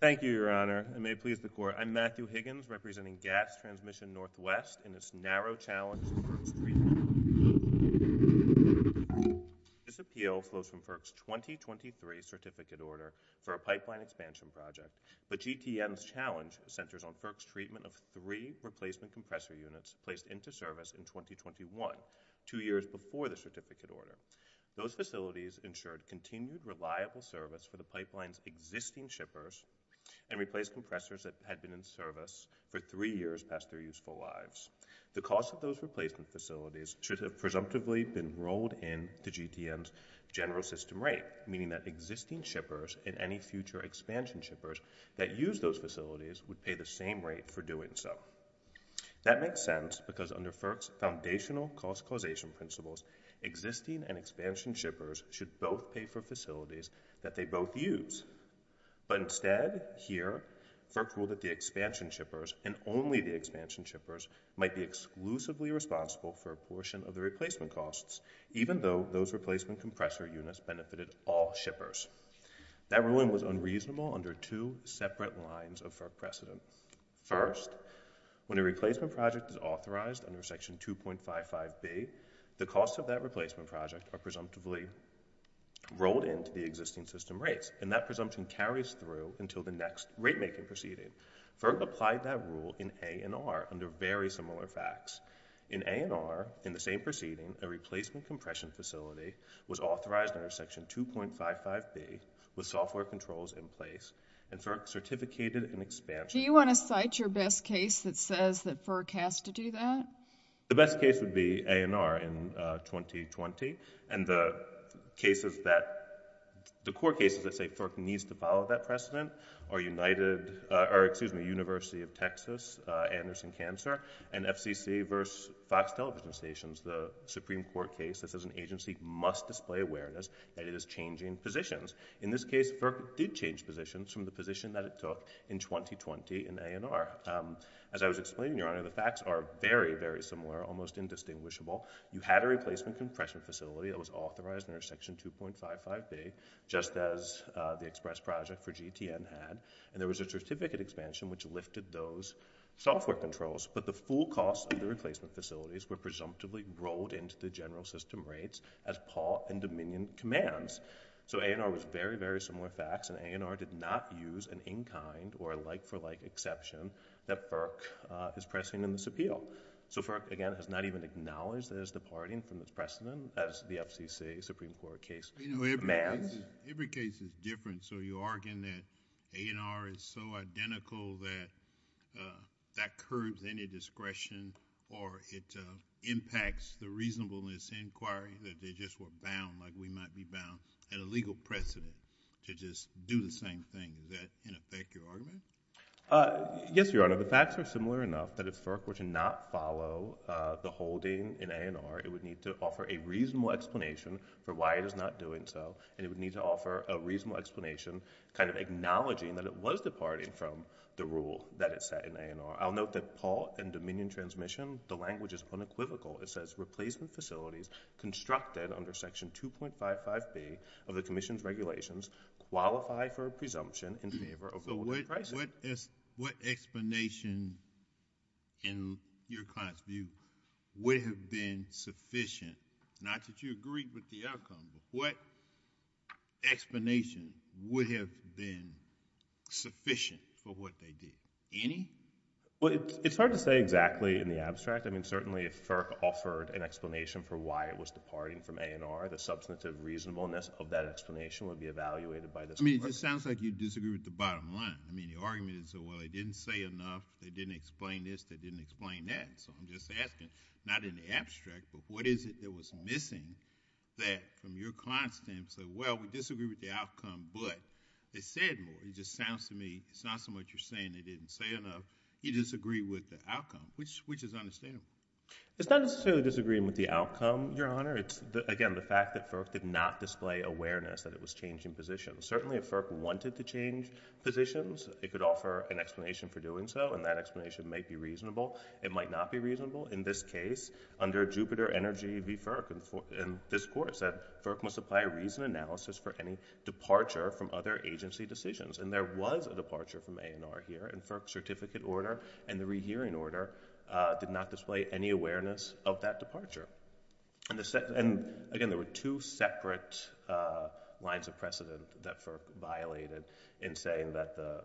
Thank you, Your Honor, and may it please the Court, I am Matthew Higgins, representing GATS Transmission NW in its narrow challenge to FERC's treatment of replacement compressor This appeal flows from FERC's 2023 Certificate Order for a Pipeline Expansion Project, but GTN's challenge centers on FERC's treatment of three replacement compressor units placed into service in 2021, two years before the Certificate Order. Those facilities ensured continued reliable service for the pipeline's existing shippers and replaced compressors that had been in service for three years past their useful lives. The cost of those replacement facilities should have presumptively been rolled into GTN's general system rate, meaning that existing shippers and any future expansion shippers that use those facilities would pay the same rate for doing so. That makes sense because under FERC's foundational cost causation principles, existing and expansion shippers should both pay for facilities that they both use. But instead, here, FERC ruled that the expansion shippers and only the expansion shippers might be exclusively responsible for a portion of the replacement costs, even though those replacement compressor units benefited all shippers. That ruling was unreasonable under two separate lines of FERC precedent. First, when a replacement project is authorized under Section 2.55b, the costs of that replacement project are presumptively rolled into the existing system rates, and that presumption carries through until the next rate-making proceeding. FERC applied that rule in A&R under very similar facts. In A&R, in the same proceeding, a replacement compression facility was authorized under Section 2.55b with software controls in place, and FERC certificated an expansion. Do you want to cite your best case that says that FERC has to do that? The best case would be A&R in 2020, and the cases that, the core cases that say FERC needs to follow that precedent are United, or excuse me, University of Texas, Anderson Cancer, and FCC versus Fox Television Stations. The Supreme Court case that says an agency must display awareness that it is changing positions. In this case, FERC did change positions from the position that it took in 2020 in A&R. As I was explaining, Your Honor, the facts are very, very similar, almost indistinguishable. You had a replacement compression facility that was authorized under Section 2.55b, just as the express project for GTN had, and there was a certificate expansion which lifted those software controls, but the full costs of the replacement facilities were presumptively rolled into the general system rates as Paul and Dominion commands. So A&R was very, very similar facts, and A&R did not use an in-kind or a like-for-like exception that FERC is pressing in this appeal. So FERC, again, has not even acknowledged that it's departing from its precedent as the FCC Supreme Court case commands. You know, every case is different, so you're arguing that A&R is so identical that that curbs any discretion or it impacts the reasonableness inquiry, that they just were bound, like we might be bound, at a legal precedent to just do the same thing. Is that, in effect, your argument? Yes, Your Honor. The facts are similar enough that if FERC were to not follow the holding in A&R, it would need to offer a reasonable explanation for why it is not doing so, and it would need to offer a reasonable explanation, kind of acknowledging that it was departing from the rule that it set in A&R. I'll note that Paul and Dominion transmission, the language is unequivocal. It says replacement facilities constructed under Section 2.55b of the Commission's regulations qualify for a presumption in favor of the holding of a precedent. What explanation, in your client's view, would have been sufficient, not that you agree with the outcome, but what explanation would have been sufficient for what they did? Any? It's hard to say exactly in the abstract. I mean, certainly if FERC offered an explanation for why it was departing from A&R, the substantive reasonableness of that explanation would be evaluated by this Court. I mean, it just sounds like you disagree with the bottom line. I mean, the argument is, well, they didn't say enough. They didn't explain this. They didn't explain that. So I'm just asking, not in the abstract, but what is it that was missing that from your client's stance, that, well, we disagree with the outcome, but they said more. It just sounds to me, it's not so much you're saying they didn't say enough. You disagree with the outcome, which, which is understandable. It's not necessarily disagreeing with the outcome, Your Honor. It's, again, the fact that FERC did not display awareness that it was changing positions. Certainly, if FERC wanted to change positions, it could offer an explanation for doing so, and that explanation might be reasonable. It might not be reasonable. In this case, under Jupiter Energy v. FERC in this Court, it said FERC must apply reason analysis for any departure from other agency decisions. And there was a departure from A&R here, and FERC's certificate order and the rehearing order did not display any awareness of that departure. And, again, there were two separate lines of precedent that FERC violated in saying that the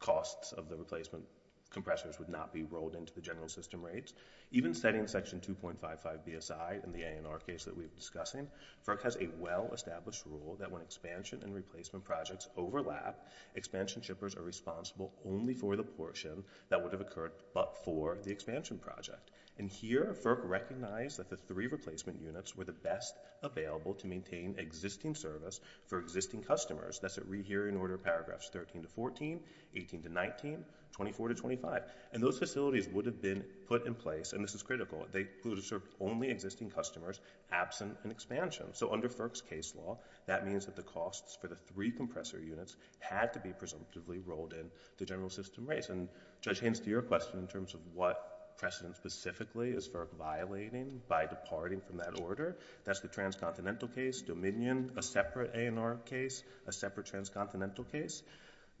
costs of the replacement compressors would not be rolled into the general system rates. Even setting Section 2.55b aside, in the A&R case that we were discussing, FERC has a well-established rule that when expansion and replacement projects overlap, expansion shippers are responsible only for the portion that would have occurred but for the expansion project. And here, FERC recognized that the three replacement units were the best available to maintain existing service for existing customers. That's at rehearing order paragraphs 13-14, 18-19, 24-25. And those facilities would have been put in place, and this is critical, they would have served only existing customers absent an expansion. So under FERC's case law, that means that the costs for the three compressor units had to be presumptively rolled into the general system rates. And Judge Haynes, to your question in terms of what precedent specifically is FERC violating by departing from that order, that's the transcontinental case, Dominion, a separate A&R case, a separate transcontinental case.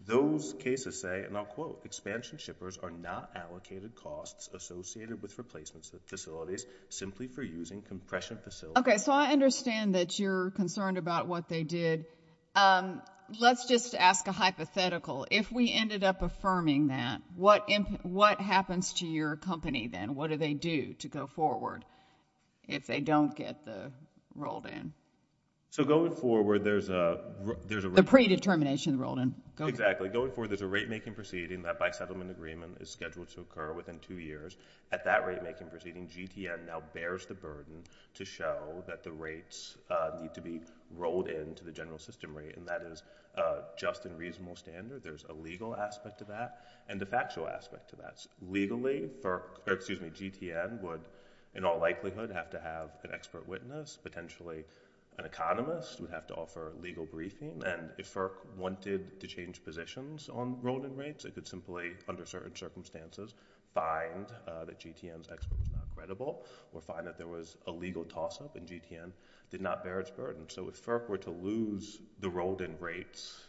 Those cases say, and I'll quote, expansion shippers are not allocated costs associated with replacements of facilities simply for using compression facilities. Okay, so I understand that you're concerned about what they did. Let's just ask a hypothetical. If we ended up affirming that, what happens to your company then? What do they do to go forward if they don't get the rolled in? So going forward, there's a rate making proceeding that by settlement agreement is scheduled to occur within two years. At that rate making proceeding, GTN now bears the burden to show that the rates need to be rolled into the general system rate, and that is just and reasonable standard. There's a legal aspect to that and a factual aspect to that. Legally, GTN would in all likelihood have to have an expert witness. Potentially an economist would have to offer legal briefing. And if FERC wanted to change positions on rolled in rates, they could simply, under certain circumstances, find that GTN's expert was not credible or find that there was a legal toss up and GTN did not bear its burden. So if FERC were to lose the rolled in rates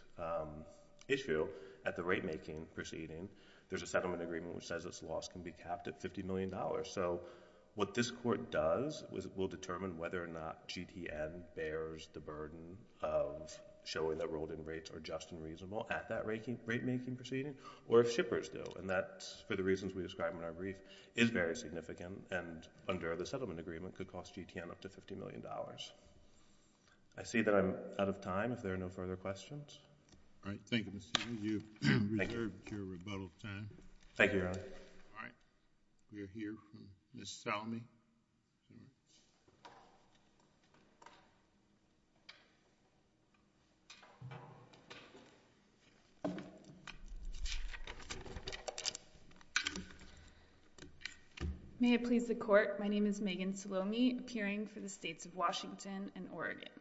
issue at the rate making proceeding, there's a settlement agreement which says its loss can be capped at $50 million. So what this court does is it will determine whether or not GTN bears the burden of showing that rolled in rates are just and reasonable at that rate making proceeding, or if shippers do, and that's for the reasons we described in our brief, is very significant and under the settlement agreement could cost GTN up to $50 million. I see that I'm out of time if there are no further questions. All right. Thank you, Mr. Hughes. You've reserved your rebuttal time. Thank you, Your Honor. All right. We'll hear from Ms. Salmi. May it please the court, my name is Megan Salmi, appearing for the states of Washington and Oregon.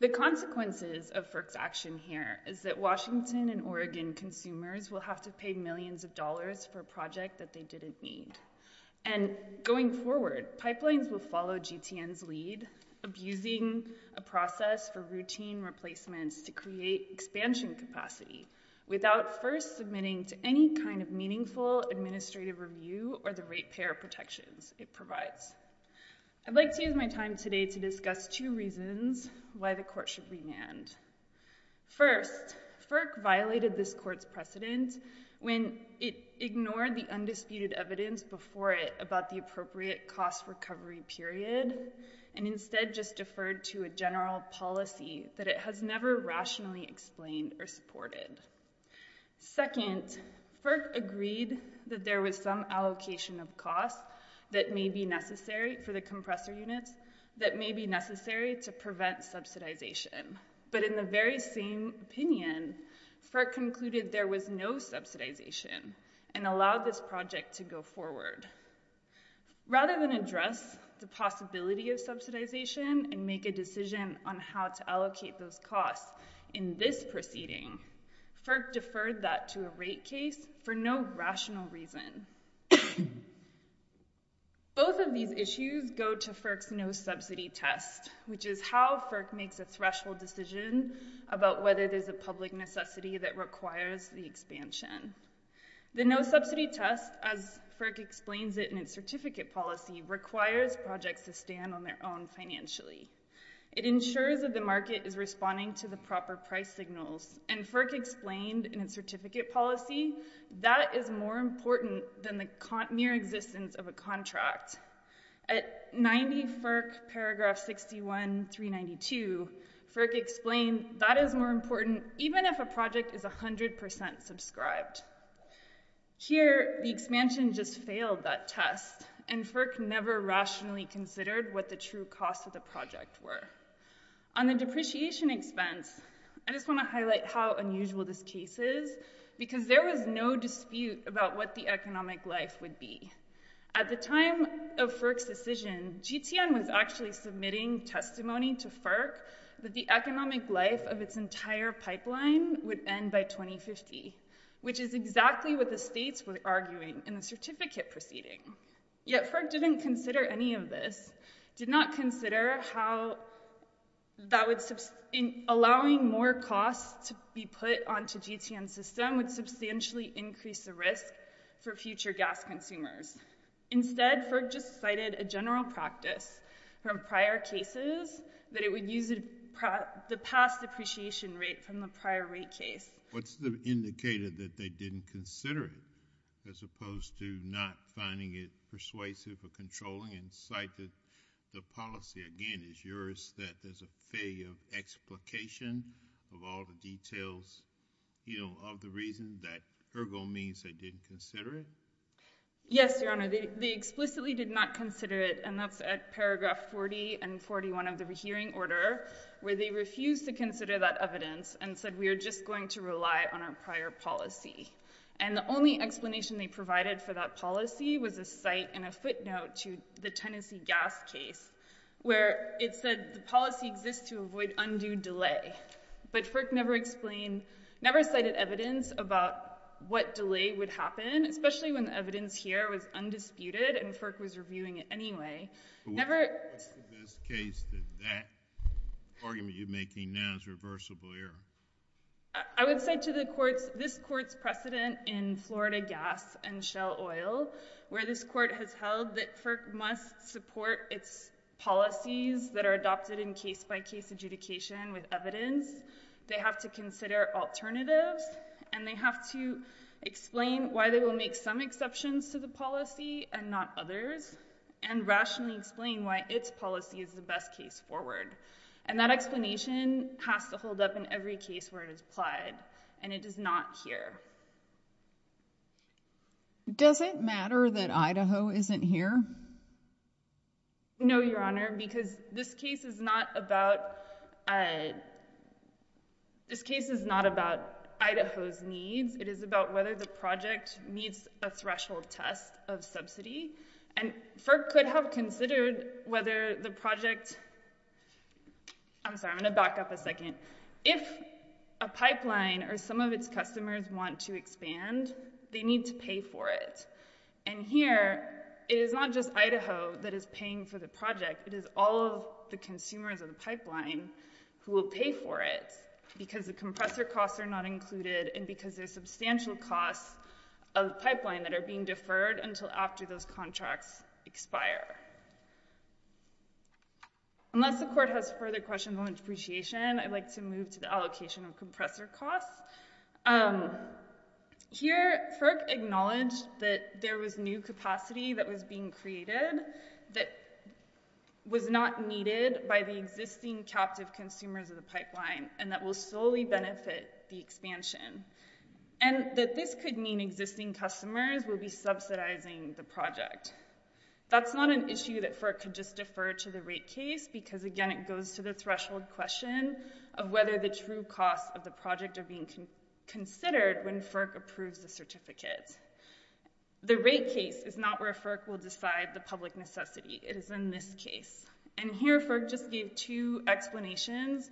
The consequences of FERC's action here is that Washington and Oregon consumers will have to pay millions of dollars for a project that they didn't need. And going forward, pipelines will follow GTN's lead, abusing a process for routine replacements to create expansion capacity without first submitting to any kind of meaningful administrative review or the ratepayer protections it provides. I'd like to use my time today to discuss two reasons why the court should remand. First, FERC violated this court's precedent when it ignored the undisputed evidence before it about the appropriate cost recovery period and instead just deferred to a general policy that it has never rationally explained or supported. Second, FERC agreed that there was some allocation of costs that may be necessary for the compressor units that may be necessary to prevent subsidization. But in the very same opinion, FERC concluded there was no subsidization and allowed this project to go forward. Rather than address the possibility of subsidization and make a decision on how to allocate those costs in this proceeding, FERC deferred that to a rate case for no rational reason. Both of these issues go to FERC's no subsidy test, which is how FERC makes a threshold decision about whether there's a public necessity that requires the expansion. The no subsidy test, as FERC explains it in its certificate policy, requires projects to stand on their own financially. It ensures that the market is responding to the proper price signals, and FERC explained in its certificate policy that is more important than the mere existence of a contract. At 90 FERC paragraph 61, 392, FERC explained that is more important even if a project is 100% subscribed. Here, the expansion just failed that test, and FERC never rationally considered what the true costs of the project were. On the depreciation expense, I just want to highlight how unusual this case is, because there was no dispute about what the economic life would be. At the time of FERC's decision, GTN was actually submitting testimony to FERC that the economic life of its entire pipeline would end by 2050, which is exactly what the states were arguing in the certificate proceeding. Yet, FERC didn't consider any of this, did not consider how that would, allowing more costs to be put onto GTN's system would substantially increase the risk for future gas consumers. Instead, FERC just cited a general practice from prior cases that it would use the past depreciation rate from the prior rate case. What's indicated that they didn't consider it, as opposed to not finding it persuasive or controlling, and cite that the policy, again, is yours, that there's a failure of explication of all the details of the reason that ergo means they did consider it? Yes, Your Honor, they explicitly did not consider it, and that's at paragraph 40 and 41 of the hearing order, where they refused to consider that evidence and said we are just going to rely on our prior policy. And the only explanation they provided for that policy was a cite and a footnote to the Tennessee gas case, where it said the policy exists to avoid undue delay. But FERC never explained, never cited evidence about what delay would happen, especially when the evidence here was undisputed and FERC was reviewing it anyway. But what's the best case that that argument you're making now is reversible error? I would say to the courts, this court's precedent in Florida Gas and Shell Oil, where this court has held that FERC must support its policies that are adopted in case-by-case adjudication with evidence, they have to consider alternatives, and they have to explain why they will make some exceptions to the policy and not others, and rationally explain why its policy is the best case forward. And that explanation has to hold up in every case where it is applied, and it is not here. Does it matter that Idaho isn't here? No, Your Honor, because this case is not about, uh, this case is not about Idaho needs, it is about whether the project meets a threshold test of subsidy, and FERC could have considered whether the project, I'm sorry, I'm going to back up a second, if a pipeline or some of its customers want to expand, they need to pay for it. And here, it is not just Idaho that is paying for the project, it is all of the consumers of the pipeline who will pay for it, because the compressor costs are not included, and because there are substantial costs of the pipeline that are being deferred until after those contracts expire. Unless the court has further questions on depreciation, I'd like to move to the allocation of compressor costs. Um, here, FERC acknowledged that there was new capacity that was being created that was not needed by the existing captive consumers of the pipeline, and that will solely benefit the expansion, and that this could mean existing customers will be subsidizing the project. That's not an issue that FERC could just defer to the rate case, because, again, it goes to the threshold question of whether the true costs of the project are being considered when FERC approves the certificate. The rate case is not where FERC will decide the public necessity, it is in this case. And here, FERC just gave two explanations.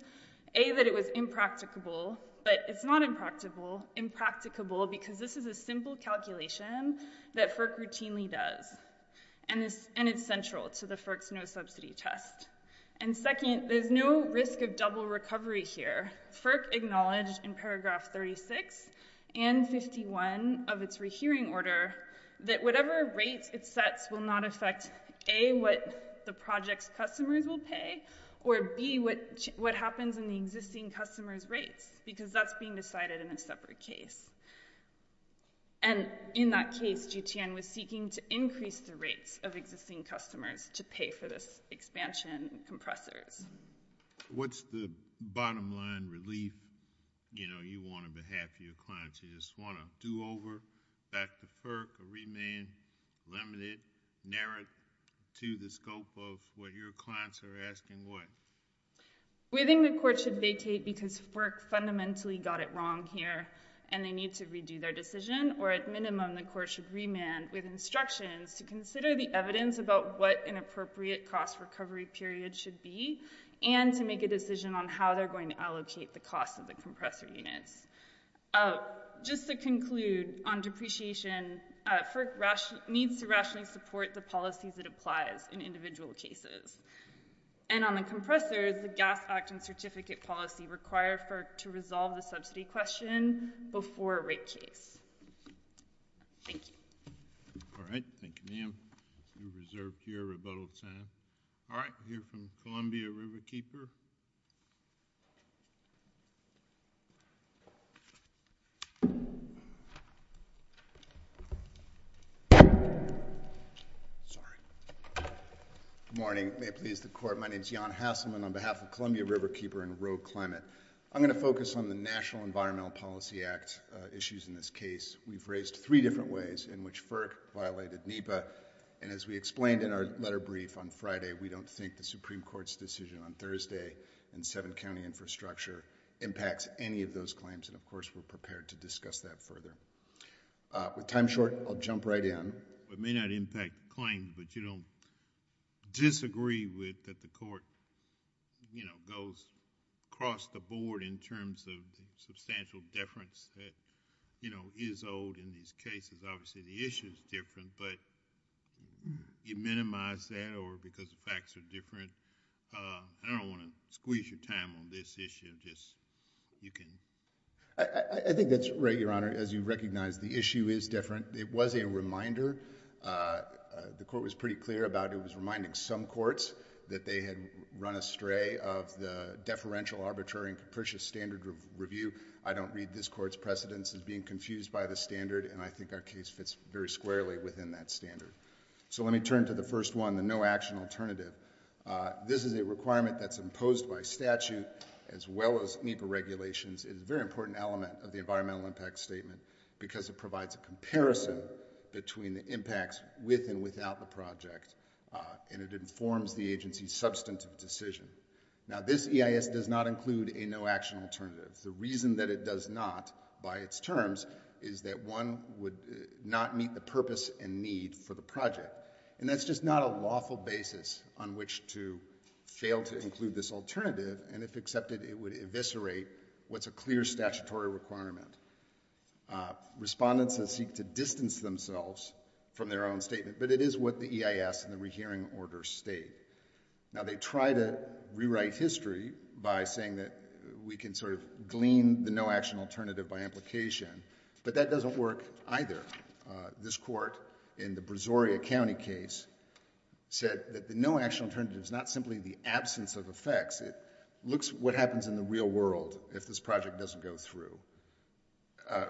A, that it was impracticable, but it's not impracticable, impracticable because this is a simple calculation that FERC routinely does, and it's central to the FERC's no-subsidy test. And second, there's no risk of double recovery here. FERC acknowledged in paragraph 36 and 51 of its hearing order that whatever rates it sets will not affect, A, what the project's customers will pay, or B, what happens in the existing customers' rates, because that's being decided in a separate case. And in that case, GTN was seeking to increase the rates of existing customers to pay for this expansion in compressors. What's the bottom line relief you want on behalf of your clients? You just want to do over, back to FERC, or remand, limit it, narrow it to the scope of what your clients are asking what? We think the court should vacate because FERC fundamentally got it wrong here and they need to redo their decision, or at minimum, the court should remand with instructions to consider the evidence about what an appropriate cost recovery period should be and to make a decision on how they're going to allocate the cost of the compressor units. Just to conclude, on depreciation, FERC needs to rationally support the policies it applies in individual cases. And on the compressors, the Gas Act and Certificate Policy require FERC to resolve the subsidy question before a rate case. Thank you. All right. Thank you, ma'am. You're reserved here. Rebuttal time. All right. We'll hear from Columbia Riverkeeper. Good morning. May it please the Court. My name is Jan Hasselman on behalf of Columbia Riverkeeper and Rogue Climate. I'm going to focus on the National Environmental Policy Act issues in this case. We've raised three different ways in which FERC violated NEPA. And as we explained in our letter brief on Friday, we don't think the Supreme Court's decision on Thursday in seven-county infrastructure impacts any of those claims. And of course, we're prepared to discuss that further. With time short, I'll jump right in. It may not impact claims, but you don't disagree with that the court, you know, goes across the board in terms of substantial deference that, you know, is owed in these cases. Obviously, the issue is different, but you minimize that or because the facts are different. I don't want to squeeze your time on this issue. Just, you can. I think that's right, Your Honor. As you recognize, the issue is different. It was a reminder. The court was pretty clear about it was reminding some courts that they had run astray of the preferential, arbitrary, and capricious standard of review. I don't read this court's precedence as being confused by the standard, and I think our case fits very squarely within that standard. So let me turn to the first one, the no-action alternative. This is a requirement that's imposed by statute, as well as NEPA regulations. It's a very important element of the environmental impact statement because it provides a comparison between the impacts with and without the project. And it informs the agency's substantive decision. Now, this EIS does not include a no-action alternative. The reason that it does not by its terms is that one would not meet the purpose and need for the project. And that's just not a lawful basis on which to fail to include this alternative, and if accepted, it would eviscerate what's a clear statutory requirement. Respondents seek to distance themselves from their own statement, but it is what the EIS and the rehearing order state. Now, they try to rewrite history by saying that we can sort of glean the no-action alternative by implication, but that doesn't work either. This court, in the Brazoria County case, said that the no-action alternative is not simply the absence of effects. It looks at what happens in the real world if this project doesn't go through.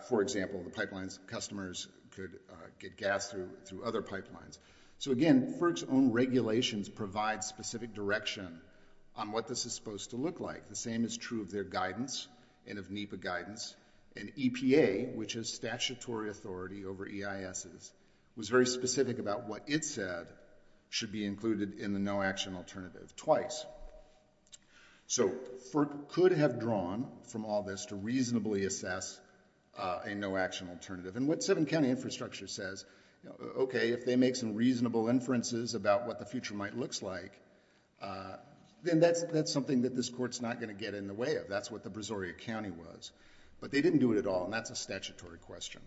For example, the pipelines, customers could get gas through other pipelines. So again, FERC's own regulations provide specific direction on what this is supposed to look like. The same is true of their guidance and of NEPA guidance. And EPA, which is statutory authority over EISs, was very specific about what it said should be included in the no-action alternative twice. So FERC could have drawn from all this to reasonably assess a no-action alternative. And what seven-county infrastructure says, okay, if they make some reasonable inferences about what the future might look like, then that's something that this court's not going to get in the way of. That's what the Brazoria County was. But they didn't do it at all, and that's a statutory question.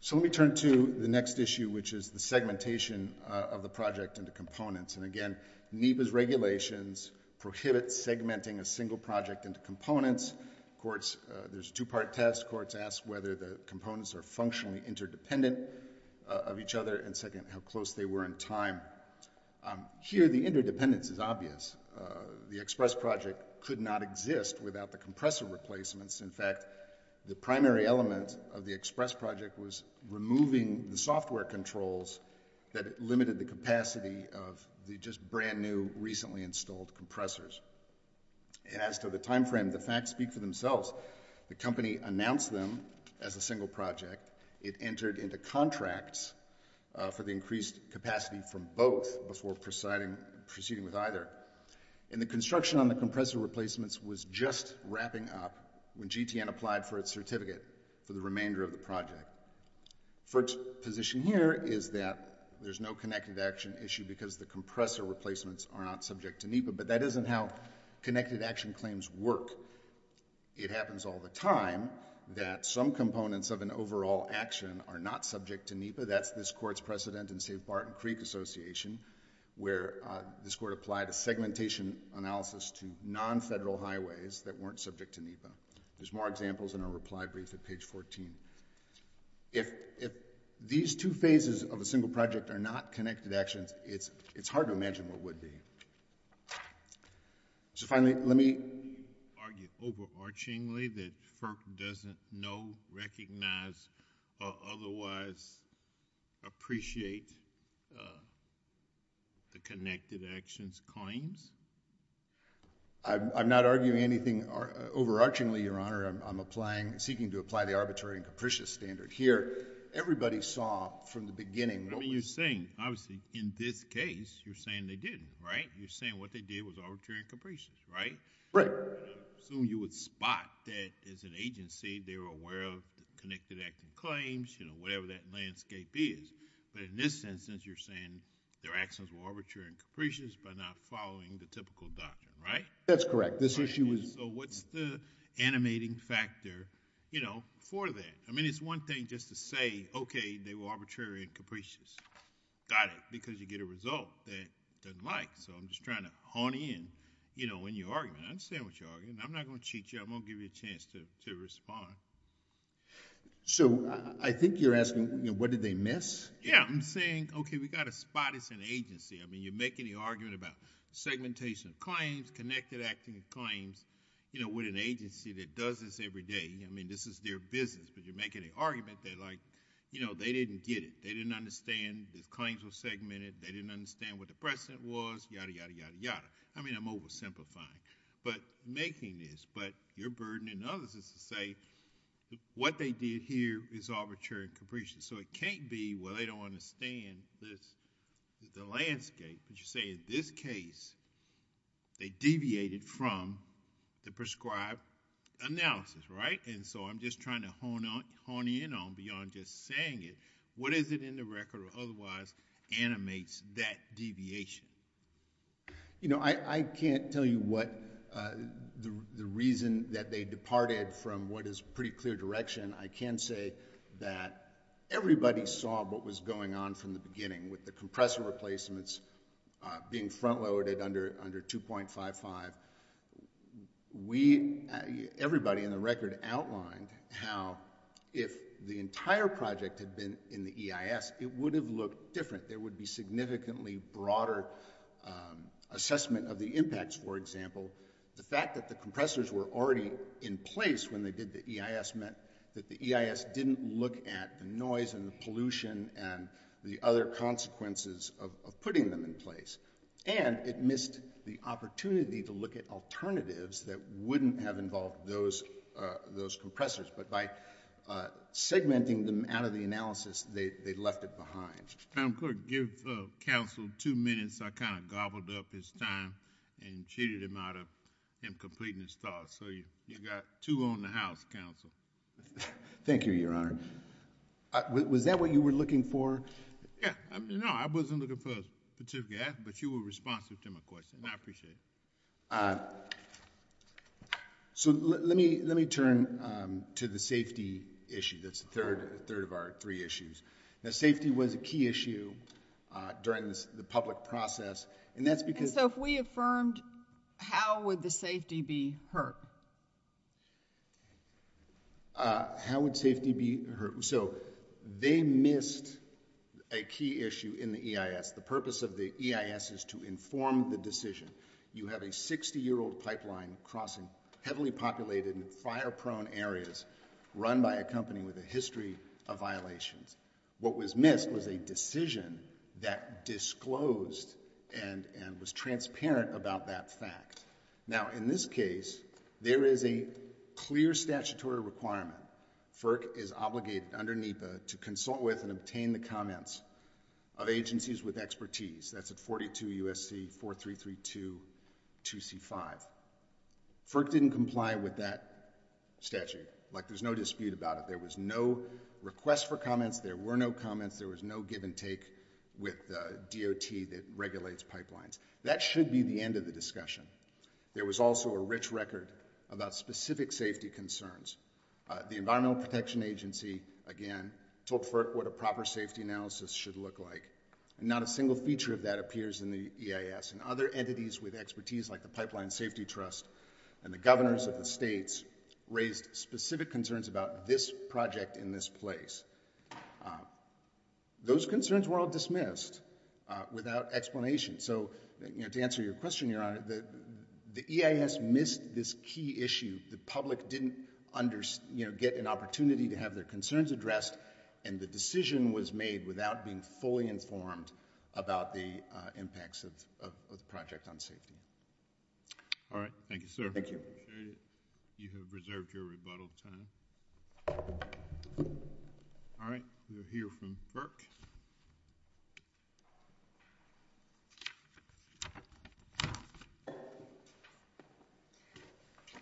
So let me turn to the next issue, which is the segmentation of the project into components. And again, NEPA's regulations prohibit segmenting a single project into components. Courts, there's a two-part test. Courts ask whether the components are functionally interdependent of each other and second, how close they were in time. Here, the interdependence is obvious. The express project could not exist without the compressor replacements. In fact, the primary element of the express project was removing the software controls that limited the capacity of the just brand-new, recently installed compressors. And as to the timeframe, the facts speak for themselves. The company announced them as a single project. It entered into contracts for the increased capacity from both before proceeding with either. And the construction on the compressor replacements was just wrapping up when GTN applied for its certificate for the remainder of the project. FERC's position here is that there's no connecting action issue because the compressor replacements are not subject to NEPA, but that isn't how connected action claims work. It happens all the time that some components of an overall action are not subject to NEPA. That's this Court's precedent in Save Barton Creek Association, where this Court applied a segmentation analysis to non-federal highways that weren't subject to NEPA. There's more examples in our reply brief at page 14. If these two phases of a project are not connected actions, it's hard to imagine what would be. So finally, let me argue overarchingly that FERC doesn't know, recognize, or otherwise appreciate the connected actions claims. I'm not arguing anything overarchingly, Your Honor. I'm applying, seeking to apply the arbitrary and capricious standard. Here, everybody saw from the beginning what was... I mean, you're saying, obviously, in this case, you're saying they didn't, right? You're saying what they did was arbitrary and capricious, right? Right. I'm assuming you would spot that as an agency, they were aware of the connected action claims, whatever that landscape is. But in this instance, you're saying their actions were arbitrary and capricious by not following the typical doctrine, right? That's correct. This issue was... So what's the animating factor for that? I mean, it's one thing just to say, okay, they were arbitrary and capricious. Got it. Because you get a result that it doesn't like. So I'm just trying to hone in, you know, in your argument. I understand what you're arguing. I'm not going to cheat you. I'm going to give you a chance to respond. So I think you're asking, you know, what did they miss? Yeah. I'm saying, okay, we got to spot as an agency. I mean, you're making the argument about segmentation of claims, connected acting of claims, you know, with an agency that does this every day. I mean, this is their business, but you're making an argument that, like, you know, they didn't get it. They didn't understand the claims were segmented. They didn't understand what the precedent was, yadda, yadda, yadda, yadda. I mean, I'm oversimplifying. But making this, but your burden and others' is to say what they did here is arbitrary and capricious. So it can't be, well, they don't understand the landscape, but you're saying in this case, they deviated from the prescribed analysis, right? And so I'm just trying to hone in on beyond just saying it, what is it in the record or otherwise animates that deviation? You know, I can't tell you what the reason that they departed from what is pretty clear direction. I can say that everybody saw what was going on from the beginning with the compressor and the EIS. Now, if the entire project had been in the EIS, it would have looked different. There would be significantly broader assessment of the impacts, for example. The fact that the compressors were already in place when they did the EIS meant that the EIS didn't look at the noise and the pollution and the other consequences of putting them in place. And it missed the opportunity to look at alternatives that wouldn't have involved those compressors. But by segmenting them out of the analysis, they left it behind. I'm going to give counsel two minutes. I kind of gobbled up his time and cheated him out of him completing his thoughts. So you got two on the house, counsel. Thank you, Your Honor. Was that what you were looking for? Yeah. No, I wasn't looking for a specific answer, but you were responsive to my question. I appreciate it. So let me turn to the safety issue. That's the third of our three issues. Now, safety was a key issue during the public process. And so if we affirmed, how would the safety be hurt? How would safety be hurt? So they missed a key issue in the EIS. The purpose of the EIS is to inform the decision. You have a 60-year-old pipeline crossing heavily populated and fire-prone areas run by a company with a history of violations. What was missed was a decision that disclosed and was transparent about that fact. Now, in this case, there is a clear statutory requirement. FERC is obligated under NEPA to consult with and obtain the comments of agencies with expertise. That's at 42 U.S.C. 4332 2C5. FERC didn't comply with that statute. Like, there's no dispute about it. There was no request for comments. There were no comments. There was no give and take with the DOT that regulates pipelines. That should be the end of the discussion. There was also a rich record about specific safety concerns. The Environmental Protection Agency, again, told FERC what a proper safety analysis should look like. Not a single feature of that appears in the EIS. And other entities with expertise like the Pipeline Safety Trust and the governors of the states raised specific concerns about this project in this place. Those concerns were all dismissed without explanation. So, you know, to answer your question, Your Honor, the EIS missed this key issue. The public didn't, you know, get an opportunity to have their concerns addressed. And the decision was made without being fully informed about the impacts of the project on safety. All right. Thank you, sir. Thank you. You have reserved your rebuttal time. All right. We'll hear from FERC.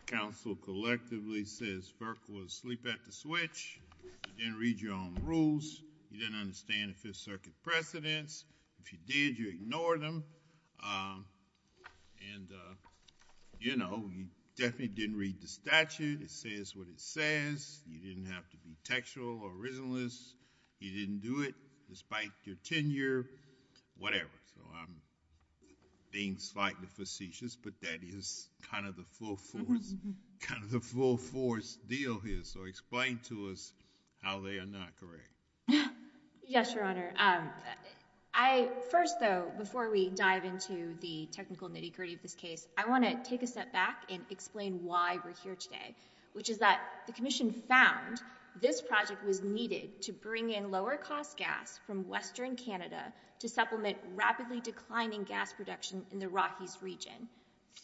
Council collectively says FERC was asleep at the switch. You didn't read your own rules. You didn't understand the Fifth Circuit precedents. If you did, you ignored them. And, you know, you definitely didn't read the statute. It says what it says. You didn't have to be textual or reasonless. You didn't do it despite your tenure, whatever. So I'm being slightly facetious, but that is kind of the full force deal here. So explain to us how they are not correct. Yes, Your Honor. First, though, before we dive into the technical nitty-gritty of this case, I want to take a step back and explain why we're here today, which is that the commission found this project was needed to bring in lower-cost gas from western Canada to supplement rapidly declining gas production in the Rockies region.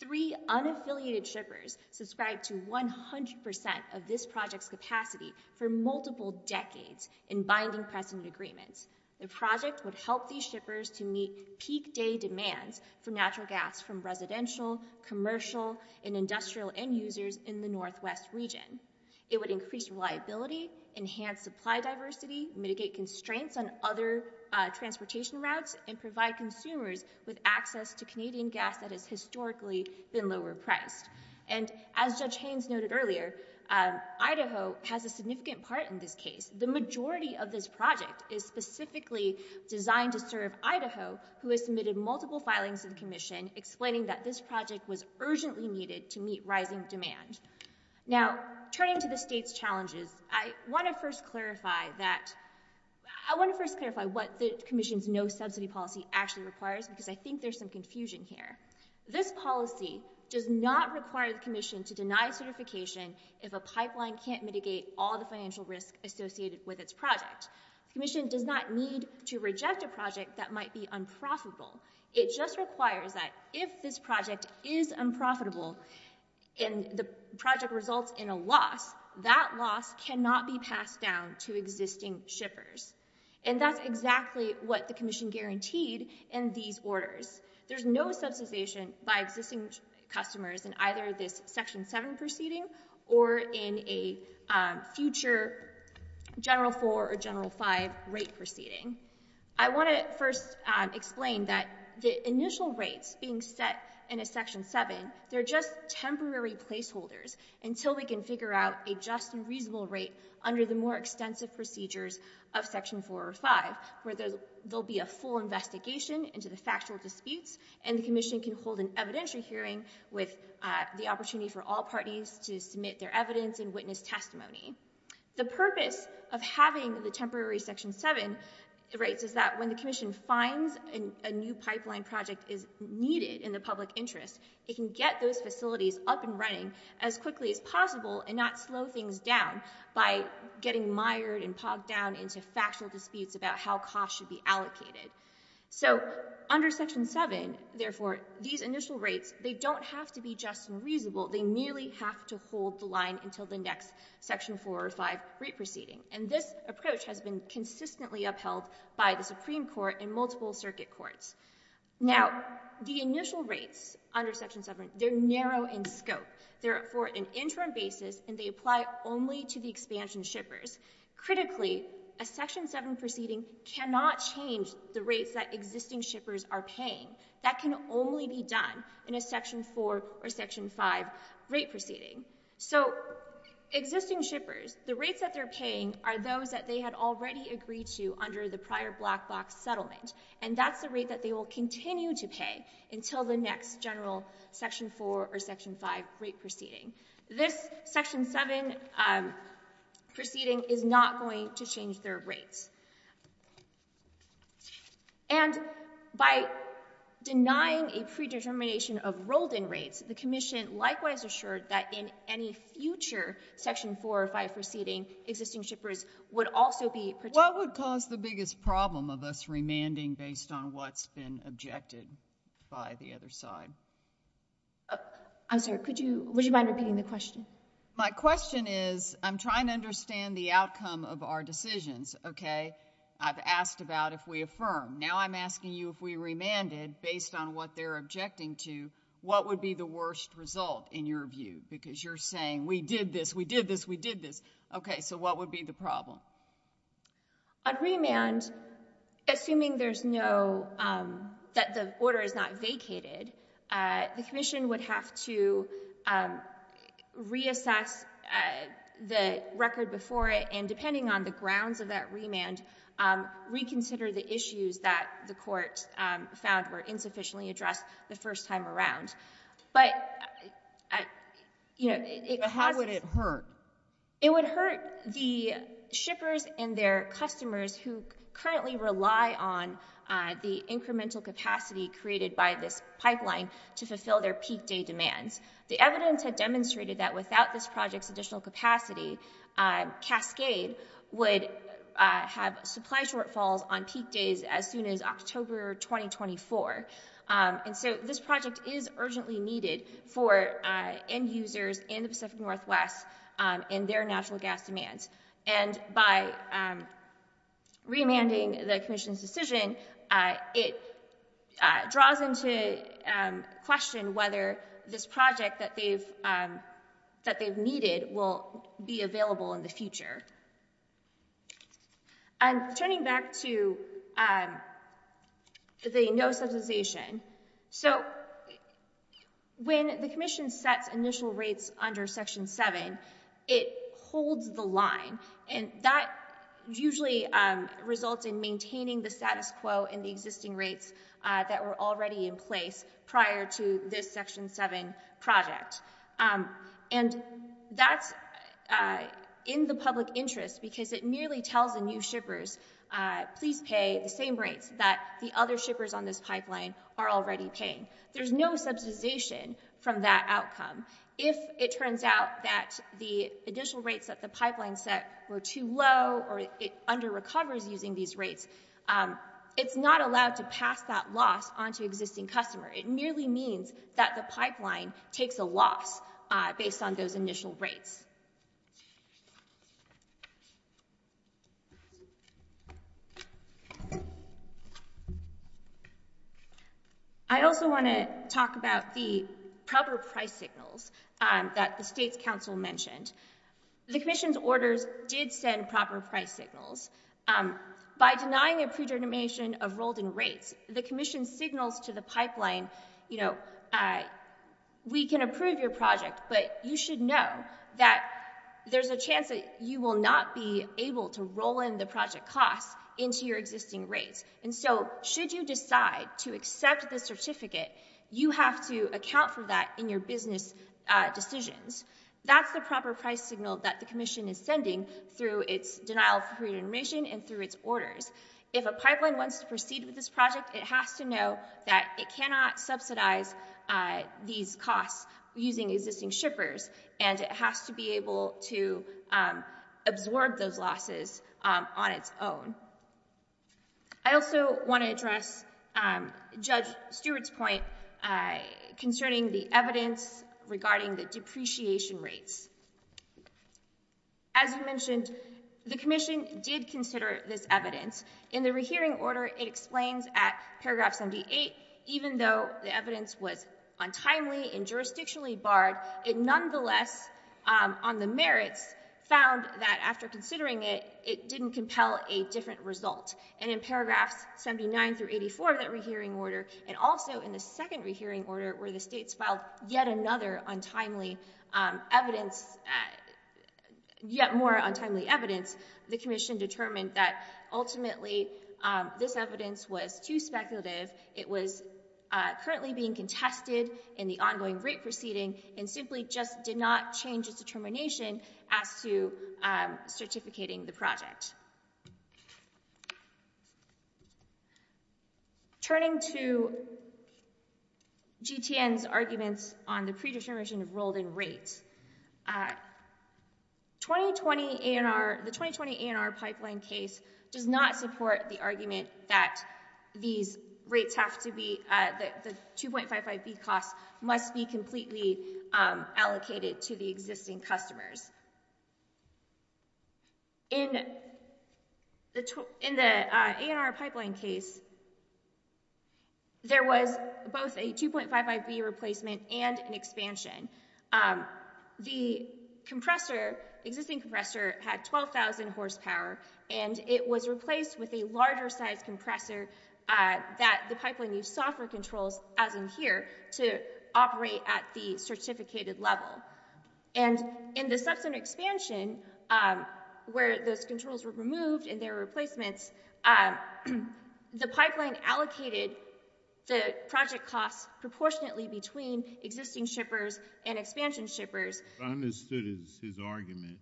Three unaffiliated shippers subscribed to 100% of this project's capacity for multiple decades in binding precedent agreements. The project would help these shippers to meet peak-day demands for natural gas from residential, commercial, and industrial end-users in the northwest region. It would increase reliability, enhance supply diversity, mitigate constraints on other transportation routes, and provide consumers with access to Canadian gas that has historically been lower-priced. And as Judge Haynes noted earlier, Idaho has a significant part in this case. The majority of this project is specifically designed to serve Idaho, who has submitted multiple filings to the commission explaining that this project was urgently needed to meet rising demand. Now, turning to the state's challenges, I want to first clarify what the commission's no-subsidy policy actually requires, because I think there's some confusion here. This policy does not require the commission to deny certification if a pipeline can't mitigate all the financial risk associated with its project. The commission does not need to reject a project that might be unprofitable. It just requires that if this project is unprofitable and the project results in a loss, that loss cannot be passed down to existing shippers. And that's exactly what the commission guaranteed in these orders. There's no subsidization by existing customers in either this Section 7 proceeding or in a future General 4 or General 5 rate proceeding. I want to first explain that the initial rates being set in a Section 7, they're just temporary placeholders until we can figure out a just and reasonable rate under the more extensive procedures of Section 4 or 5, where there'll be a full investigation into the factual disputes and the commission can hold an evidentiary hearing with the opportunity for all parties to submit their evidence and witness testimony. The purpose of having the temporary Section 7 rates is that when the commission finds a new pipeline project is needed in the public interest, it can get those facilities up and running as quickly as possible and not slow things down by getting mired and pogged down into factual disputes about how costs should be allocated. So under Section 7, therefore, these initial rates, they don't have to be just and reasonable. They merely have to hold the line until the next Section 4 or 5 rate proceeding. And this approach has been consistently upheld by the Supreme Court and multiple circuit courts. Now, the initial rates under Section 7, they're narrow in scope. They're for an interim basis, and they apply only to the expansion shippers. Critically, a Section 7 proceeding cannot change the rates that existing shippers are paying. That can only be done in a Section 4 or Section 5 rate proceeding. So existing shippers, the rates that they're paying are those that they had already agreed to under the prior black box settlement, and that's the rate that they will continue to pay until the next general Section 4 or Section 5 rate proceeding. This Section 7 proceeding is not going to change their rates. And by denying a predetermination of rolled-in rates, the Commission likewise assured that in any future Section 4 or 5 proceeding, existing shippers would also be protected. What would cause the biggest problem of us remanding based on what's been objected by the other side? I'm sorry, would you mind repeating the question? My question is, I'm trying to understand the outcome of our decisions, okay? I've asked about if we affirm. Now I'm asking you if we remanded based on what they're objecting to, what would be the worst result in your view? Because you're saying, we did this, we did this, we did this. Okay, so what would be the problem? On remand, assuming there's no, that the order is not vacated, the Commission would have to reassess the record before it and depending on the grounds of that remand, reconsider the issues that the court found were insufficiently addressed the first time around. But, you know, it causes... But how would it hurt? It would hurt the shippers and their customers who currently rely on the incremental capacity created by this pipeline to fulfill their peak day demands. The evidence had demonstrated that without this project's additional capacity, Cascade would have supply shortfalls on peak days as soon as October 2024. And so this project is urgently needed for end users in the Pacific Northwest in their natural gas demands. And by remanding the Commission's decision, it draws into question whether this project that they've needed will be available in the future. And turning back to the no subsidization, so when the Commission sets initial rates under Section 7, it holds the line. And that usually results in maintaining the status quo and the existing rates that were already in place prior to this Section 7 project. And that's in the public interest because it merely tells the new shippers, please pay the same rates that the other shippers on this pipeline are already paying. There's no subsidization from that outcome. If it turns out that the additional rates that the pipeline set were too low or it under-recovers using these rates, it's not allowed to pass that loss onto existing customer. It merely means that the pipeline takes a loss based on those initial rates. I also want to talk about the proper price signals that the State's Council mentioned. The Commission's orders did send proper price signals. By denying a predetermination of rolled-in rates, the Commission signals to the pipeline, you know, we can approve your project, but you should know that there's a chance that you will not be able to roll in the project costs into your existing rates. And so should you decide to accept the certificate, you have to account for that in your business decisions. That's the proper price signal that the Commission is sending through its denial of predetermination and through its orders. If a pipeline wants to proceed with this project, it has to know that it cannot subsidize these costs using existing shippers, and it has to be able to absorb those losses on its own. I also want to address Judge Stewart's point concerning the evidence regarding the depreciation rates. As I mentioned, the Commission did consider this evidence. In the rehearing order, it explains at paragraph 78, even though the evidence was untimely and jurisdictionally barred, it nonetheless, on the merits, found that after considering it, it didn't compel a different result. And in paragraphs 79 through 84 of that rehearing order, and also in the second rehearing order, where the states filed yet another untimely evidence, yet more untimely evidence, the Commission determined that ultimately this evidence was too speculative. It was currently being contested in the ongoing rate proceeding, and simply just did not change its determination as to certificating the project. Turning to GTN's arguments on the predetermination of rolled-in rates, the 2020 ANR pipeline case does not support the argument that the 2.55B costs must be completely allocated to the existing customers. In the ANR pipeline case, there was both a 2.55B replacement and an expansion. The existing compressor had 12,000 horsepower, and it was replaced with a larger-sized compressor that the pipeline used software controls, as in here, to operate at the certificated level. And in the subcenter expansion, where those controls were removed and there were replacements, the pipeline allocated the project costs proportionately between existing shippers and expansion shippers. What I understood is his argument.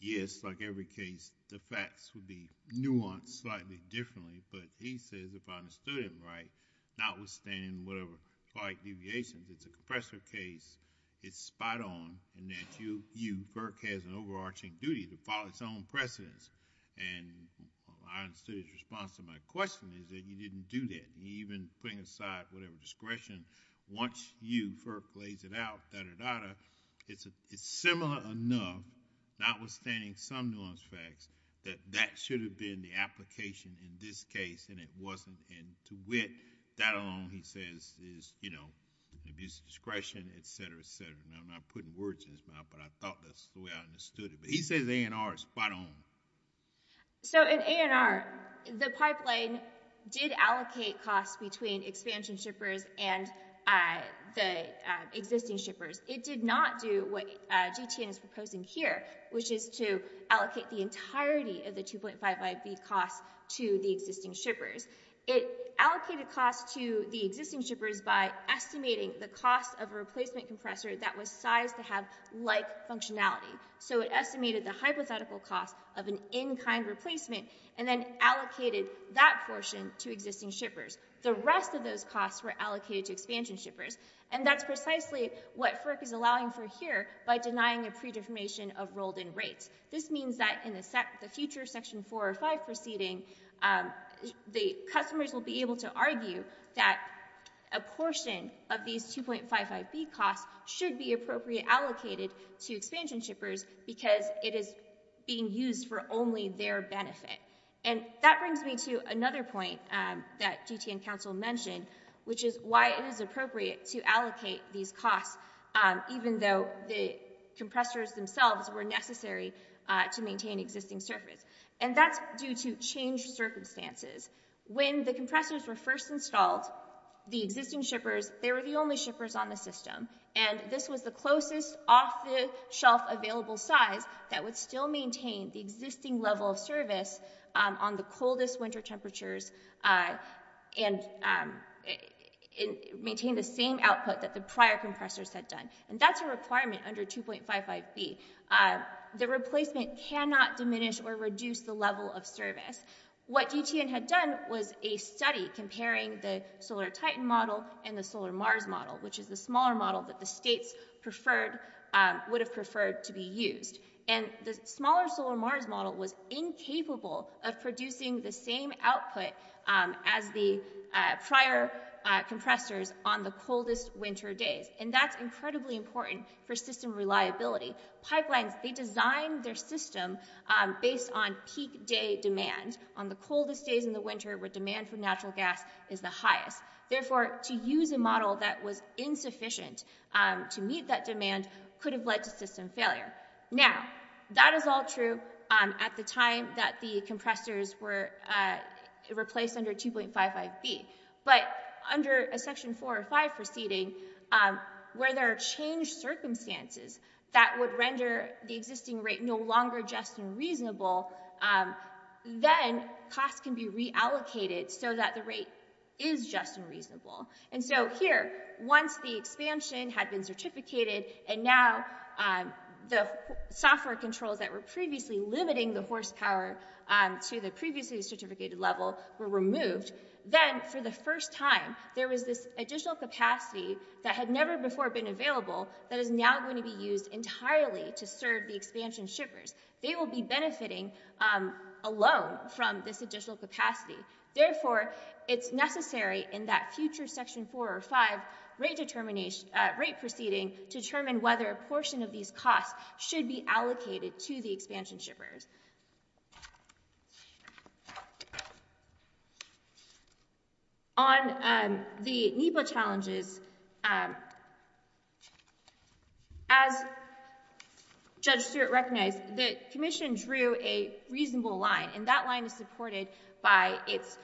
Yes, like every case, the facts would be nuanced slightly differently, but he says, if I understood him right, notwithstanding whatever flight deviations, it's a compressor case, it's spot-on, and that you, FERC, has an overarching duty to follow its own precedents. And I understood his response to my question is that you didn't do that. Even putting aside whatever discretion, once you, FERC, lays it out, da-da-da-da, it's similar enough, notwithstanding some nuance facts, that that should have been the application in this case, and it wasn't. And to wit, that alone, he says, is, you know, abuse of discretion, et cetera, et cetera. And I'm not putting words in his mouth, but I thought that's the way I understood it. But he says ANR is spot-on. So in ANR, the pipeline did allocate costs between expansion shippers and the existing shippers. It did not do what GTN is proposing here, which is to allocate the entirety of the 2.5 IB costs to the existing shippers. It allocated costs to the existing shippers by estimating the cost of a replacement compressor that was sized to have like functionality. So it estimated the hypothetical cost of an in-kind replacement and then allocated that portion to existing shippers. The rest of those costs were allocated to expansion shippers, and that's precisely what FERC is allowing for here by denying a pre-deformation of rolled-in rates. This means that in the future, Section 4 or 5 proceeding, the customers will be able to argue that a portion of these 2.5 IB costs should be appropriately allocated to expansion shippers because it is being used for only their benefit. And that brings me to another point that GTN Council mentioned, which is why it is appropriate to allocate these costs even though the compressors themselves were necessary to maintain existing service. And that's due to changed circumstances. When the compressors were first installed, the existing shippers, they were the only shippers on the system, and this was the closest off-the-shelf available size that would still maintain the existing level of service on the coldest winter temperatures and maintain the same output that the prior compressors had done. And that's a requirement under 2.5 IB. The replacement cannot diminish or reduce the level of service. What GTN had done was a study comparing the Solar Titan model and the Solar Mars model, which is the smaller model that the states preferred... would have preferred to be used. And the smaller Solar Mars model was incapable of producing the same output as the prior compressors on the coldest winter days, and that's incredibly important for system reliability. Pipelines, they design their system based on peak day demand on the coldest days in the winter where demand for natural gas is the highest. Therefore, to use a model that was insufficient to meet that demand could have led to system failure. Now, that is all true at the time that the compressors were replaced under 2.5 IB, but under a Section 4 or 5 proceeding, where there are changed circumstances that would render the existing rate no longer just and reasonable, then costs can be reallocated so that the rate is just and reasonable. And so here, once the expansion had been certificated and now the software controls that were previously limiting the horsepower to the previously certificated level were removed, then for the first time there was this additional capacity that had never before been available that is now going to be used entirely to serve the expansion shippers. They will be benefiting alone from this additional capacity. Therefore, it's necessary in that future Section 4 or 5 rate proceeding to determine whether a portion of these costs should be allocated to the expansion shippers. On the NEPA challenges, as Judge Stewart recognized, the Commission drew a reasonable line and that line is supported by its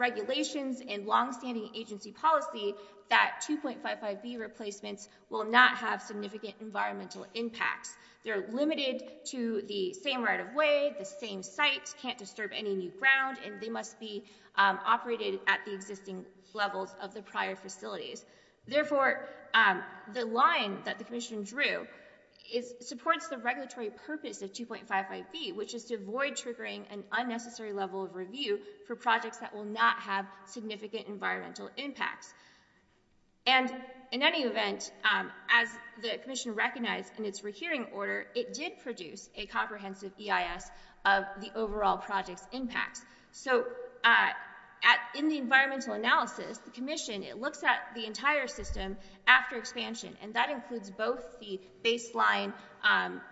regulations and long-standing agency policy that 2.5 IB replacements will not have significant environmental impacts. They're limited to the same right-of-way, the same site, can't disturb any new ground, and they must be operated at the existing levels of the prior facilities. Therefore, the line that the Commission drew supports the regulatory purpose of 2.5 IB, which is to avoid triggering an unnecessary level of review for projects that will not have significant environmental impacts. And in any event, as the Commission recognized in its rehearing order, it did produce a comprehensive EIS of the overall project's impacts. So in the environmental analysis, the Commission looks at the entire system after expansion, and that includes both the baseline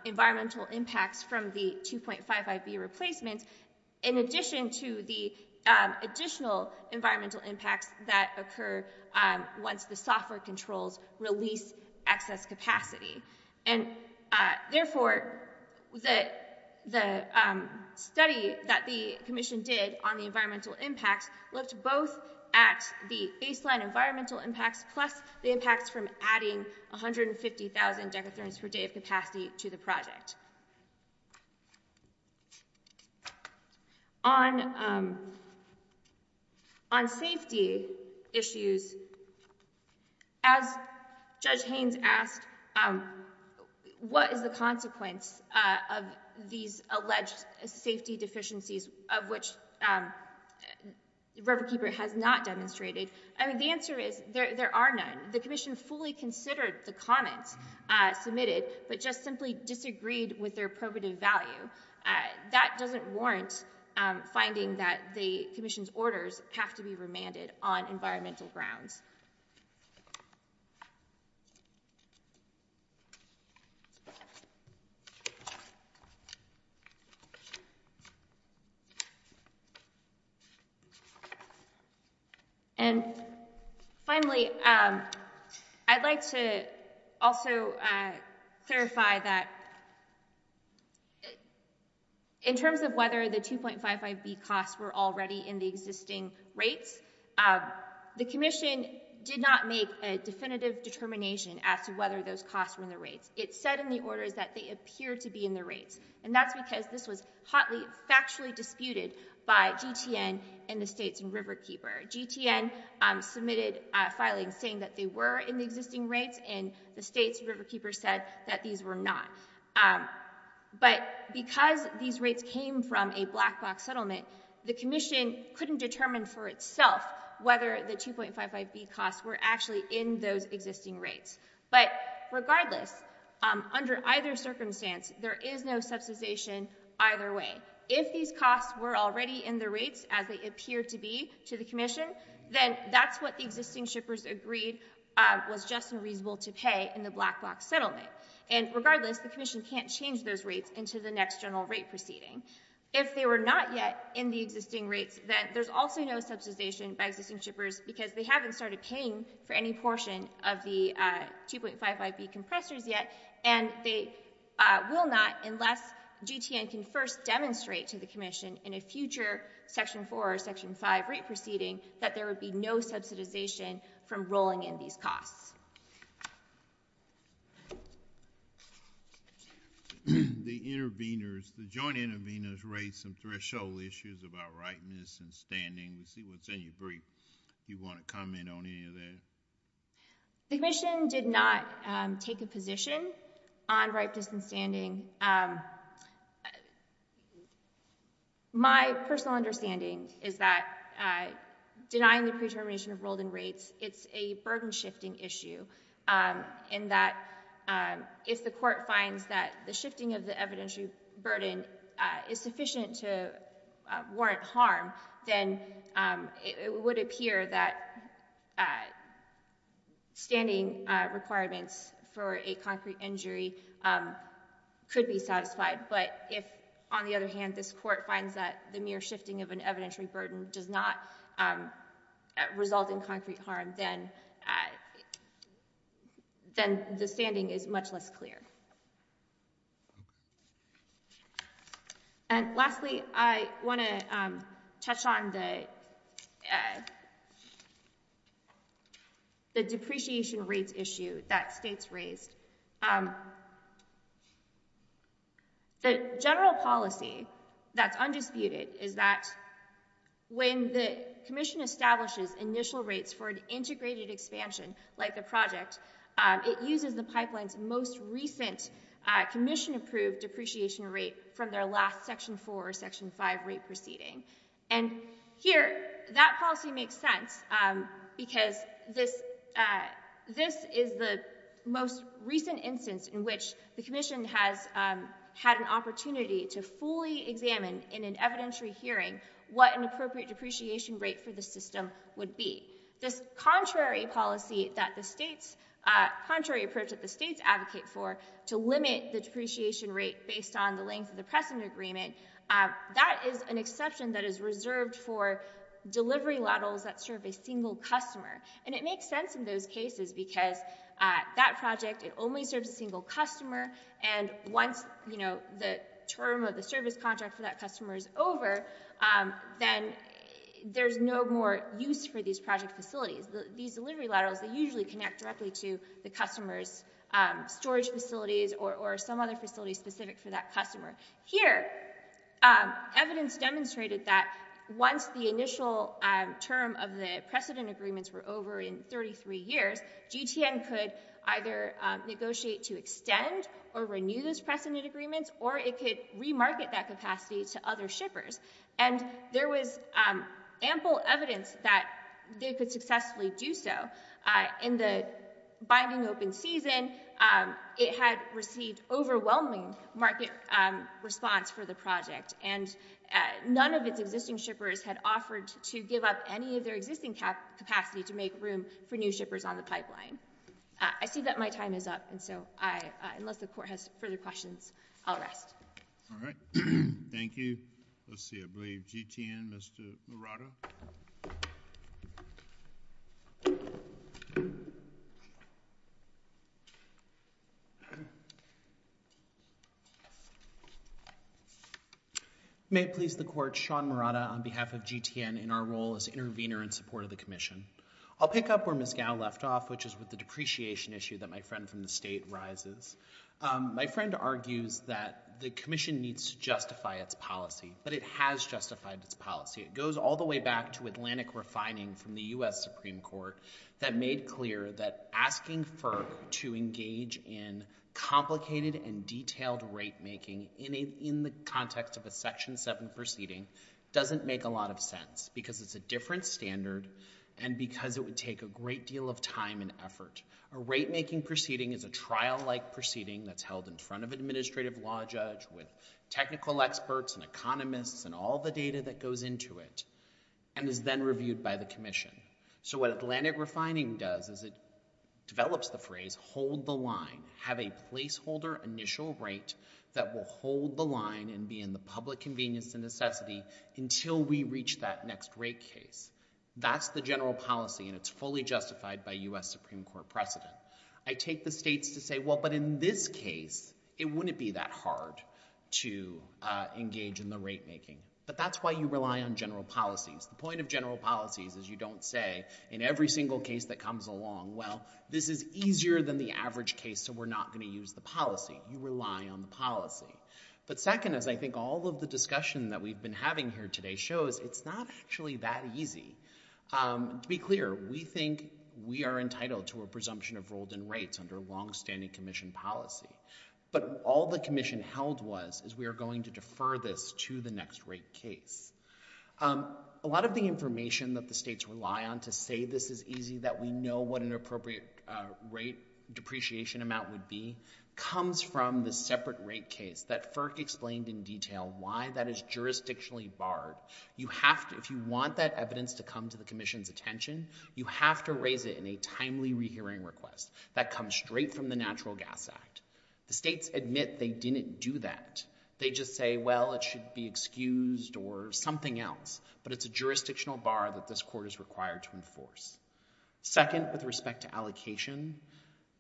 environmental impacts from the 2.5 IB replacements in addition to the additional environmental impacts that occur once the software controls release excess capacity. And therefore, the study that the Commission did on the environmental impacts looked both at the baseline environmental impacts plus the impacts from adding 150,000 decathrones per day of capacity to the project. On safety issues, as Judge Haynes asked, what is the consequence of these alleged safety deficiencies of which Riverkeeper has not demonstrated? I mean, the answer is there are none. The Commission fully considered the comments submitted, but just simply disagreed with their probative value. That doesn't warrant finding that the Commission's orders have to be remanded on environmental grounds. And finally, I'd like to also clarify that in terms of whether the 2.5 IB costs were already in the existing rates, the Commission did not make a definitive determination as to whether those costs were in the rates. It said in the orders that they appeared to be in the rates, and that's because this was hotly factually disputed by GTN and the states and Riverkeeper. GTN submitted filings saying that they were in the existing rates, and the states and Riverkeeper said that these were not. But because these rates came from a black box settlement, the Commission couldn't determine for itself whether the 2.5 IB costs were actually in those existing rates. But regardless, under either circumstance, there is no subsidization either way. If these costs were already in the rates as they appeared to be to the Commission, then that's what the existing shippers agreed was just and reasonable to pay in the black box settlement. And regardless, the Commission can't change those rates into the next general rate proceeding. If they were not yet in the existing rates, then there's also no subsidization by existing shippers because they haven't started paying for any portion of the 2.5 IB compressors yet, and they will not unless GTN can first demonstrate to the Commission in a future Section 4 or Section 5 rate proceeding that there would be no subsidization from rolling in these costs. The joint intervenors raised some threshold issues about ripeness and standing. Let's see what's in your brief. Do you want to comment on any of that? The Commission did not take a position on ripeness and standing. My personal understanding is that denying the pre-termination of rolled-in rates, it's a burden-shifting issue. If the Court finds that the shifting of the evidentiary burden is sufficient to warrant harm, then it would appear that standing requirements for a concrete injury could be satisfied. But if, on the other hand, this Court finds that the mere shifting of an evidentiary burden does not result in concrete harm, then the standing is much less clear. Lastly, I want to touch on the depreciation rates issue that states raised. The general policy that's undisputed is that when the Commission establishes initial rates for an integrated expansion like the project, it uses the pipeline's most recent Commission-approved depreciation rate from their last Section 4 or Section 5 rate proceeding. Here, that policy makes sense because this is the most recent instance in which the Commission has had an opportunity to fully examine in an evidentiary hearing what an appropriate depreciation rate for the system would be. This contrary approach that the states advocate for to limit the depreciation rate based on the length of the precedent agreement, that is an exception that is reserved for delivery ladles that serve a single customer. It makes sense in those cases because that project only serves a single customer, and once the term of the service contract for that customer is over, then there's no more use for these project facilities. These delivery ladles, they usually connect directly to the customer's storage facilities or some other facility specific for that customer. Here, evidence demonstrated that once the initial term of the precedent agreements were over in 33 years, GTN could either negotiate to extend or renew those precedent agreements, or it could re-market that capacity to other shippers, and there was ample evidence that they could successfully do so. In the binding open season, it had received overwhelming market response for the project, and none of its existing shippers had offered to give up any of their existing capacity to make room for new shippers on the pipeline. I see that my time is up, and so unless the Court has further questions, I'll rest. All right, thank you. Let's see, I believe GTN, Mr. Murata. May it please the Court, Sean Murata on behalf of GTN in our role as intervener in support of the Commission. I'll pick up where Ms. Gao left off, which is with the depreciation issue that my friend from the State rises. My friend argues that the Commission needs to justify its policy, but it has justified its policy. It goes all the way back to Atlantic Refining from the U.S. Supreme Court that made clear that asking FERC to engage in complicated and detailed rate-making in the context of a Section 7 proceeding doesn't make a lot of sense, because it's a different standard and because it would take a great deal of time and effort. A rate-making proceeding is a trial-like proceeding that's held in front of an administrative law judge with technical experts and economists and all the data that goes into it and is then reviewed by the Commission. So what Atlantic Refining does is it develops the phrase, hold the line, have a placeholder initial rate that will hold the line and be in the public convenience and necessity until we reach that next rate case. That's the general policy, and it's fully justified by U.S. Supreme Court precedent. I take the States to say, well, but in this case, it wouldn't be that hard to engage in the rate-making. But that's why you rely on general policies. The point of general policies is you don't say, in every single case that comes along, well, this is easier than the average case, so we're not going to use the policy. You rely on the policy. But second, as I think all of the discussion that we've been having here today shows, it's not actually that easy. To be clear, we think we are entitled to a presumption of rolled-in rates under long-standing Commission policy. But all the Commission held was is we are going to defer this to the next rate case. A lot of the information that the States rely on to say this is easy, that we know what an appropriate rate depreciation amount would be, comes from the separate rate case that FERC explained in detail why that is jurisdictionally barred. If you want that evidence to come to the Commission's attention, you have to raise it in a timely rehearing request that comes straight from the Natural Gas Act. The States admit they didn't do that. They just say, well, it should be excused or something else. But it's a jurisdictional bar that this Court is required to enforce. Second, with respect to allocation,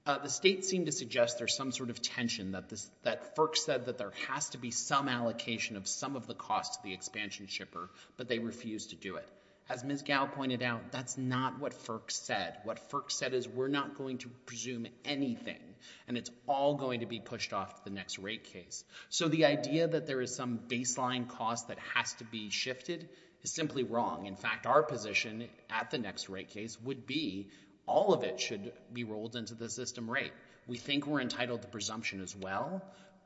the States seem to suggest there's some sort of tension that FERC said that there has to be some allocation of some of the cost to the expansion shipper, but they refuse to do it. As Ms. Gow pointed out, that's not what FERC said. What FERC said is we're not going to presume anything, and it's all going to be pushed off to the next rate case. So the idea that there is some baseline cost that has to be shifted is simply wrong. In fact, our position at the next rate case would be all of it should be rolled into the system rate. We think we're entitled to presumption as well,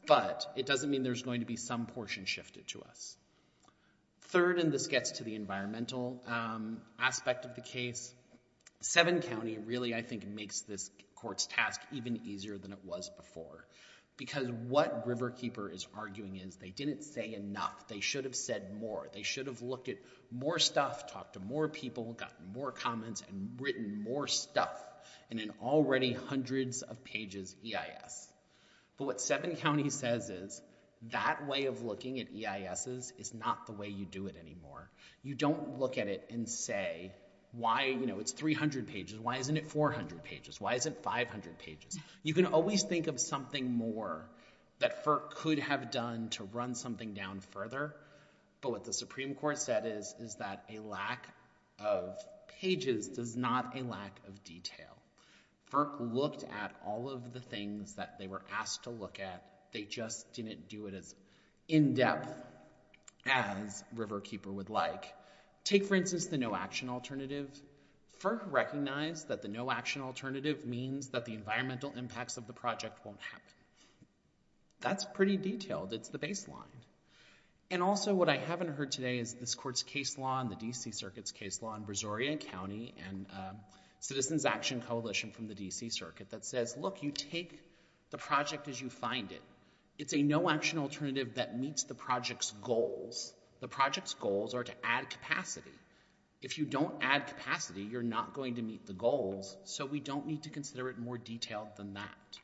but it doesn't mean there's going to be some portion shifted to us. Third, and this gets to the environmental aspect of the case, Seven County really, I think, makes this Court's task even easier than it was before, because what Riverkeeper is arguing is they didn't say enough. They should have said more. They should have looked at more stuff, talked to more people, gotten more comments, and written more stuff in an already hundreds of pages EIS. But what Seven County says is that way of looking at EISs is not the way you do it anymore. You don't look at it and say, why, you know, it's 300 pages. Why isn't it 400 pages? Why isn't it 500 pages? You can always think of something more that FERC could have done to run something down further, but what the Supreme Court said is that a lack of pages does not a lack of detail. FERC looked at all of the things that they were asked to look at. They just didn't do it as in-depth as Riverkeeper would like. Take, for instance, the no-action alternative. FERC recognized that the no-action alternative means that the environmental impacts of the project won't happen. That's pretty detailed. It's the baseline. And also what I haven't heard today is this Court's case law and the D.C. Circuit's case law on Brazorian County and Citizens Action Coalition from the D.C. Circuit that says, look, you take the project as you find it. It's a no-action alternative that meets the project's goals. The project's goals are to add capacity. If you don't add capacity, you're not going to meet the goals, so we don't need to consider it more detailed than that.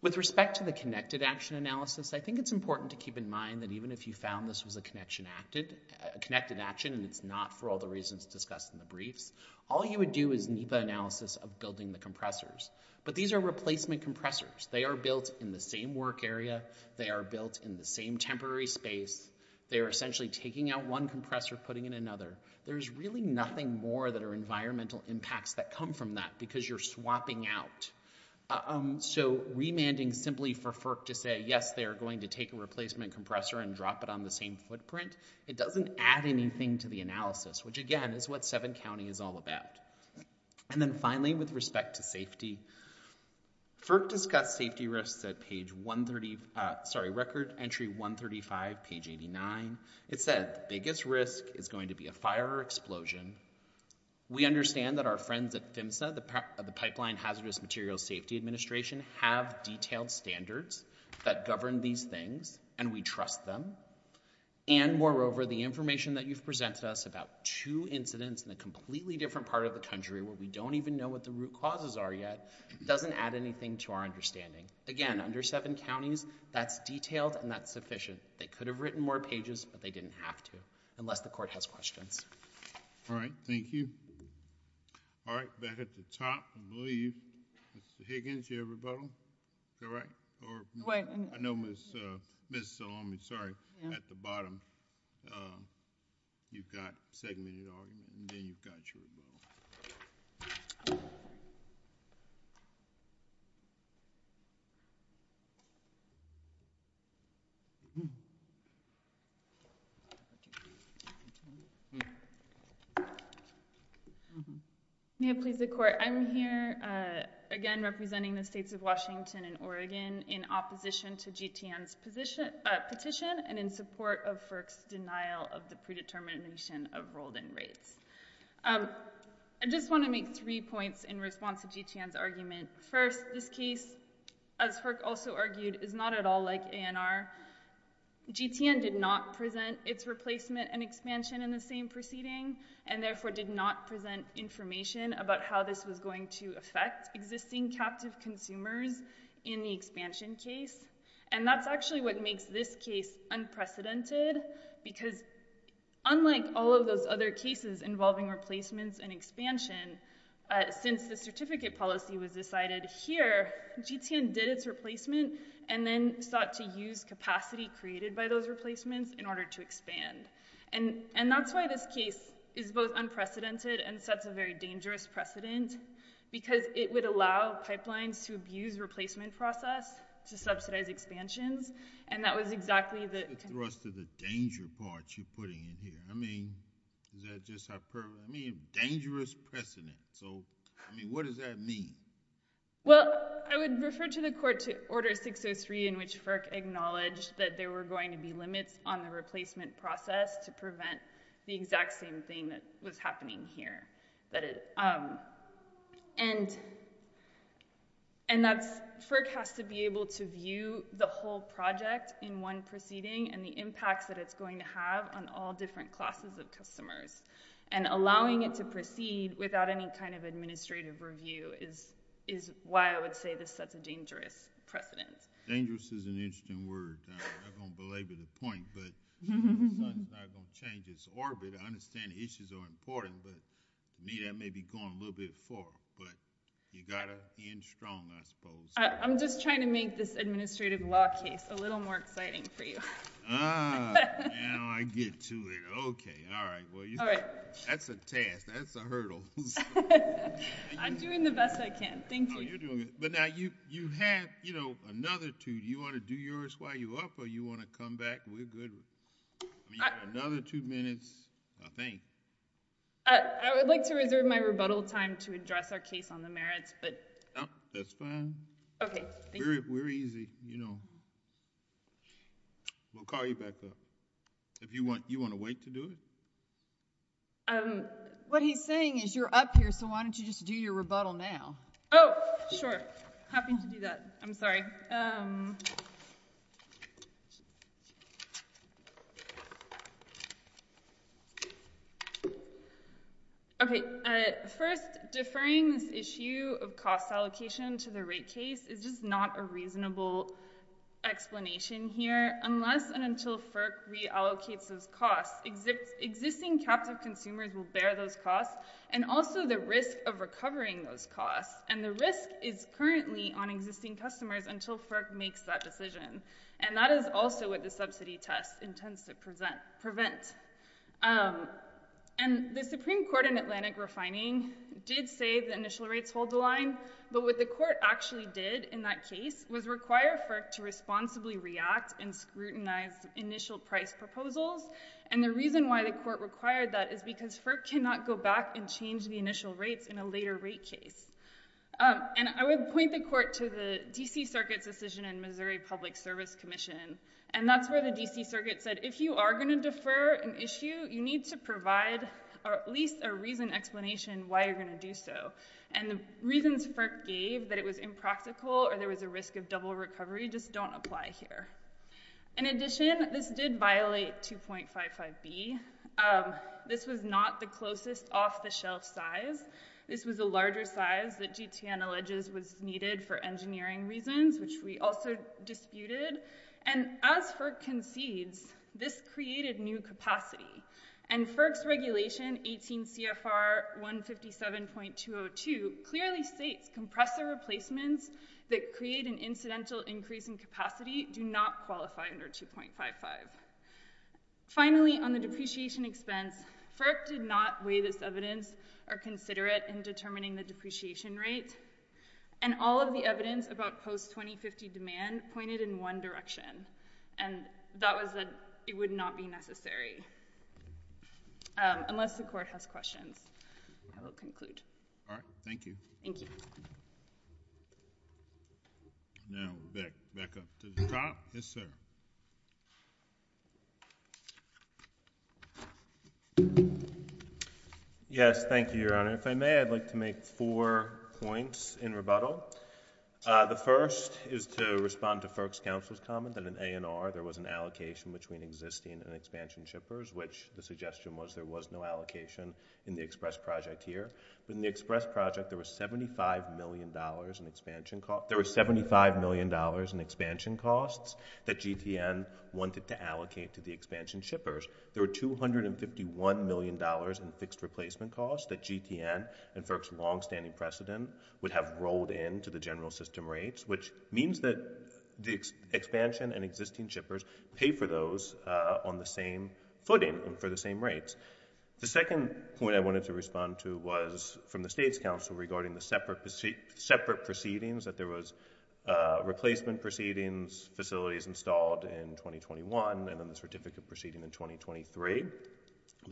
With respect to the connected action analysis, I think it's important to keep in mind that even if you found this was a connected action and it's not for all the reasons discussed in the briefs, all you would do is need the analysis of building the compressors. But these are replacement compressors. They are built in the same work area. They are built in the same temporary space. They are essentially taking out one compressor, putting in another. There's really nothing more that are environmental impacts that come from that because you're swapping out. So remanding simply for FERC to say, yes, they are going to take a replacement compressor and drop it on the same footprint, it doesn't add anything to the analysis, which, again, is what 7 County is all about. And then finally, with respect to safety, FERC discussed safety risks at page 130... sorry, record entry 135, page 89. It said the biggest risk is going to be a fire or explosion. We understand that our friends at PHMSA, the Pipeline Hazardous Materials Safety Administration, have detailed standards that govern these things, and we trust them. And moreover, the information that you've presented us about two incidents in a completely different part of the country where we don't even know what the root causes are yet doesn't add anything to our understanding. Again, under 7 counties, that's detailed and that's sufficient. They could have written more pages, but they didn't have to, unless the court has questions. All right, thank you. All right, back at the top, I believe. Mr. Higgins, you have a rebuttal? All right. I know Ms. Salome, sorry, at the bottom, you've got segmented argument, and then you've got your rebuttal. May it please the Court, I'm here, again, representing the states of Washington and Oregon, in opposition to GTN's petition and in support of FERC's denial of the predetermination of rolled-in rates. I just want to make three points in response to GTN's argument. First, this case, as FERC also argued, is not at all like ANR. GTN did not present its replacement and expansion in the same proceeding and therefore did not present information about how this was going to affect existing captive consumers in the expansion case. And that's actually what makes this case unprecedented, because unlike all of those other cases involving replacements and expansion, since the certificate policy was decided here, GTN did its replacement and then sought to use capacity created by those replacements in order to expand. And that's why this case is both unprecedented and sets a very dangerous precedent, because it would allow pipelines to abuse replacement process to subsidize expansions, and that was exactly the... What's the thrust of the danger part you're putting in here? I mean, is that just hyperbole? I mean, dangerous precedent. So, I mean, what does that mean? Well, I would refer to the Court to Order 603 in which FERC acknowledged that there were going to be limits on the replacement process to prevent the exact same thing that was happening here. And FERC has to be able to view the whole project in one proceeding and the impacts that it's going to have on all different classes of customers. And allowing it to proceed without any kind of administrative review is why I would say this sets a dangerous precedent. Dangerous is an interesting word. I'm not going to belabor the point, but it's not going to change its orbit. I understand the issues are important, but to me that may be going a little bit far. But you got to end strong, I suppose. I'm just trying to make this administrative law case a little more exciting for you. Oh, now I get to it. Okay, all right. That's a task. That's a hurdle. I'm doing the best I can. Thank you. Oh, you're doing good. But now you have another two. Do you want to do yours while you're up, or do you want to come back? We're good. You have another two minutes, I think. I would like to reserve my rebuttal time to address our case on the merits. That's fine. Okay. We're easy, you know. We'll call you back up. You want to wait to do it? What he's saying is you're up here, so why don't you just do your rebuttal now? Oh, sure. Happy to do that. I'm sorry. Okay. First, deferring this issue of cost allocation to the rate case is just not a reasonable explanation here. Unless and until FERC reallocates those costs, existing captive consumers will bear those costs and also the risk of recovering those costs. And the risk is currently on existing customers until FERC makes that decision. And that is also what the subsidy test intends to prevent. And the Supreme Court in Atlantic refining did say the initial rates hold the line, but what the court actually did in that case was require FERC to responsibly react and scrutinize initial price proposals. And the reason why the court required that is because FERC cannot go back and change the initial rates in a later rate case. And I would point the court to the D.C. Circuit's decision in Missouri Public Service Commission, and that's where the D.C. Circuit said if you are going to defer an issue, you need to provide at least a reasoned explanation why you're going to do so. And the reasons FERC gave that it was impractical or there was a risk of double recovery just don't apply here. In addition, this did violate 2.55b. This was not the closest off-the-shelf size. This was a larger size that GTN alleges was needed for engineering reasons, which we also disputed. And as FERC concedes, this created new capacity. And FERC's regulation, 18 CFR 157.202, clearly states compressor replacements that create an incidental increase in capacity do not qualify under 2.55. Finally, on the depreciation expense, FERC did not weigh this evidence or consider it in determining the depreciation rate. And all of the evidence about post-2050 demand pointed in one direction, and that was that it would not be necessary, unless the court has questions. I will conclude. All right. Thank you. Thank you. Now, back up to the top. Yes, sir. Yes, thank you, Your Honor. If I may, I'd like to make four points in rebuttal. The first is to respond to FERC's counsel's comment that in A&R there was an allocation between existing and expansion shippers, which the suggestion was there was no allocation in the express project here. But in the express project, there was $75 million in expansion costs that GTN wanted to allocate to the expansion shippers. There were $251 million in fixed replacement costs that GTN and FERC's longstanding precedent would have rolled into the general system rates, which means that the expansion and existing shippers pay for those on the same footing and for the same rates. The second point I wanted to respond to was from the State's counsel regarding the separate proceedings, that there was replacement proceedings, facilities installed in 2021, and then the certificate proceeding in 2023.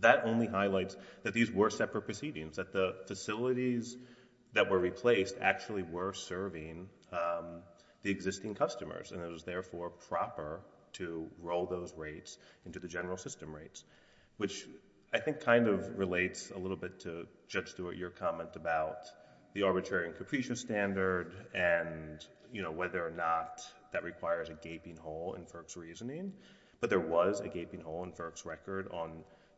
That only highlights that these were separate proceedings, that the facilities that were replaced actually were serving the existing customers, and it was therefore proper to roll those rates into the general system rates, which I think kind of relates a little bit to Judge Stewart, your comment about the arbitrary and capricious standard and whether or not that requires a gaping hole in FERC's reasoning, but there was a gaping hole in FERC's record on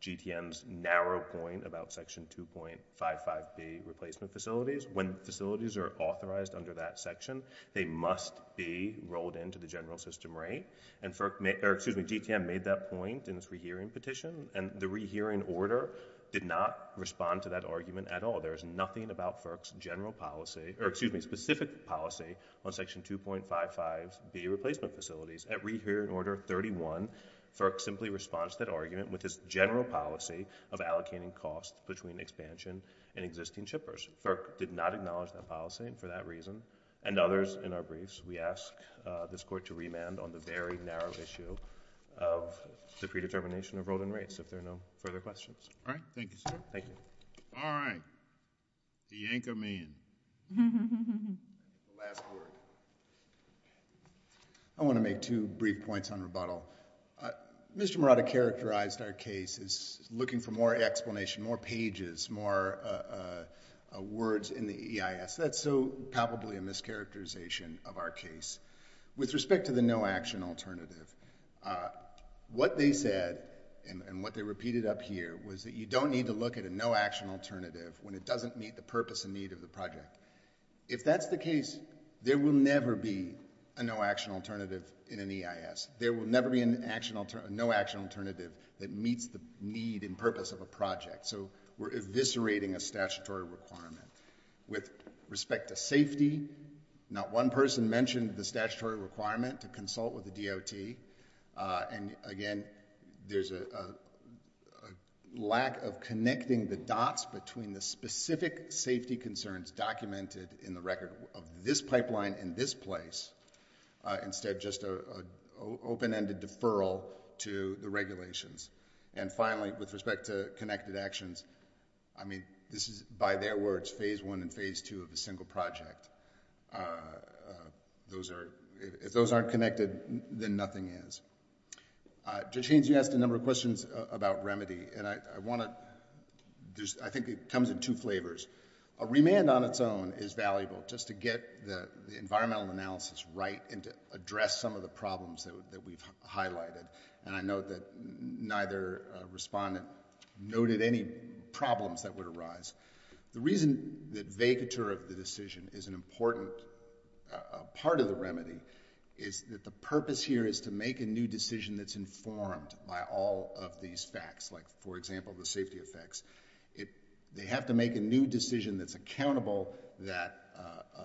GTN's narrow point about Section 2.55b, replacement facilities. When facilities are authorized under that section, they must be rolled into the general system rate, and GTN made that point in its rehearing petition, and the rehearing order did not respond to that argument at all. There is nothing about FERC's specific policy on Section 2.55b, replacement facilities. At rehearing order 31, FERC simply responds to that argument with its general policy of allocating costs between expansion and existing shippers. FERC did not acknowledge that policy, and for that reason, and others in our briefs, we ask this Court to remand on the very narrow issue of the predetermination of rolling rates, if there are no further questions. All right. Thank you, sir. Thank you. All right. The anchor man. The last word. I want to make two brief points on rebuttal. Mr. Murata characterized our case as looking for more explanation, more pages, more words in the EIS. That's probably a mischaracterization of our case. With respect to the no-action alternative, what they said, and what they repeated up here, was that you don't need to look at a no-action alternative when it doesn't meet the purpose and need of the project. If that's the case, there will never be a no-action alternative in an EIS. There will never be a no-action alternative that meets the need and purpose of a project, so we're eviscerating a statutory requirement with respect to safety. Not one person mentioned the statutory requirement to consult with the DOT. And, again, there's a lack of connecting the dots between the specific safety concerns documented in the record of this pipeline in this place, instead of just an open-ended deferral to the regulations. And, finally, with respect to connected actions, I mean, this is, by their words, phase one and phase two of a single project. If those aren't connected, then nothing is. Judge Haynes, you asked a number of questions about remedy, and I want to... I think it comes in two flavors. A remand on its own is valuable, just to get the environmental analysis right and to address some of the problems that we've highlighted. And I note that neither respondent noted any problems that would arise. The reason that vacatur of the decision is an important part of the remedy is that the purpose here is to make a new decision that's informed by all of these facts, like, for example, the safety effects. They have to make a new decision that's accountable, that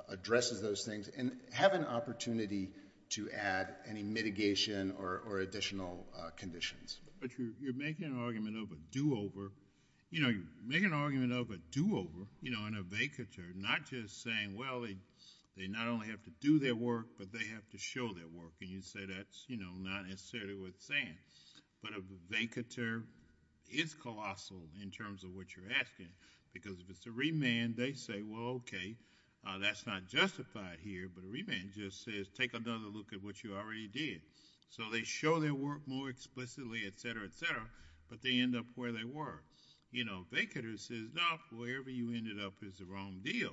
addresses those things, and have an opportunity to add any mitigation or additional conditions. But you're making an argument of a do-over. You know, you're making an argument of a do-over, you know, in a vacatur, not just saying, well, they not only have to do their work, but they have to show their work. And you say that's, you know, not necessarily what it's saying. But a vacatur is colossal in terms of what you're asking, because if it's a remand, they say, well, okay, that's not justified here, but a remand just says take another look at what you already did. So they show their work more explicitly, et cetera, et cetera, but they end up where they were. You know, vacatur says, no, wherever you ended up is the wrong deal.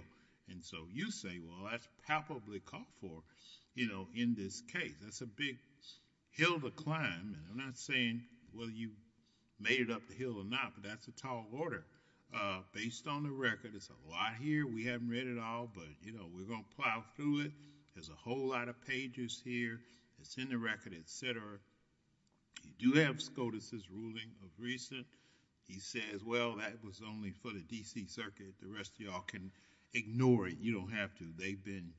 And so you say, well, that's palpably called for, you know, in this case. That's a big hill to climb, and I'm not saying whether you made it up the hill or not, but that's a tall order based on the record. It's a lot here. We haven't read it all, but, you know, we're going to plow through it. There's a whole lot of pages here. It's in the record, et cetera. You do have SCOTUS's ruling of recent. He says, well, that was only for the D.C. Circuit. The rest of you all can ignore it. You don't have to. They've been,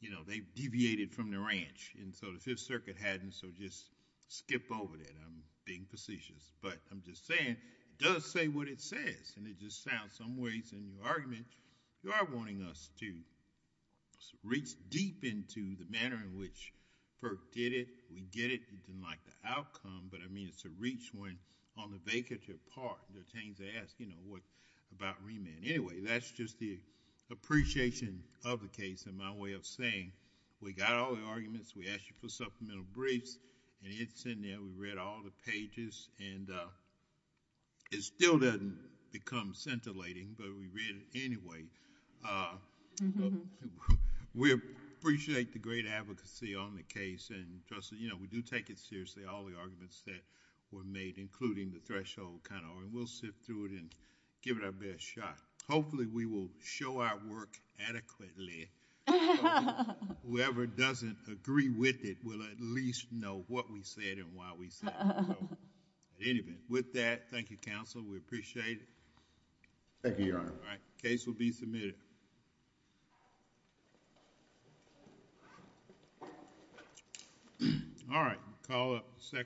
you know, they've deviated from the ranch, and so the Fifth Circuit hadn't, so just skip over that. I'm being facetious. But I'm just saying it does say what it says, and it just sounds some ways in your argument. You are wanting us to reach deep into the manner in which Perk did it, we get it, and like the outcome, but I mean it's a reach when on the vacatur part, there are things they ask, you know, about remand. Anyway, that's just the appreciation of the case in my way of saying we got all the arguments. We asked you for supplemental briefs, and it's in there. We read all the pages, and it still doesn't become scintillating, but we read it anyway. We appreciate the great advocacy on the case, and we do take it seriously, all the arguments that were made, including the threshold kind of argument. We'll sift through it and give it our best shot. Hopefully, we will show our work adequately. Whoever doesn't agree with it will at least know what we said and why we said it. Anyway, with that, thank you, Counsel. We appreciate it. Thank you, Your Honor. The case will be submitted. All right.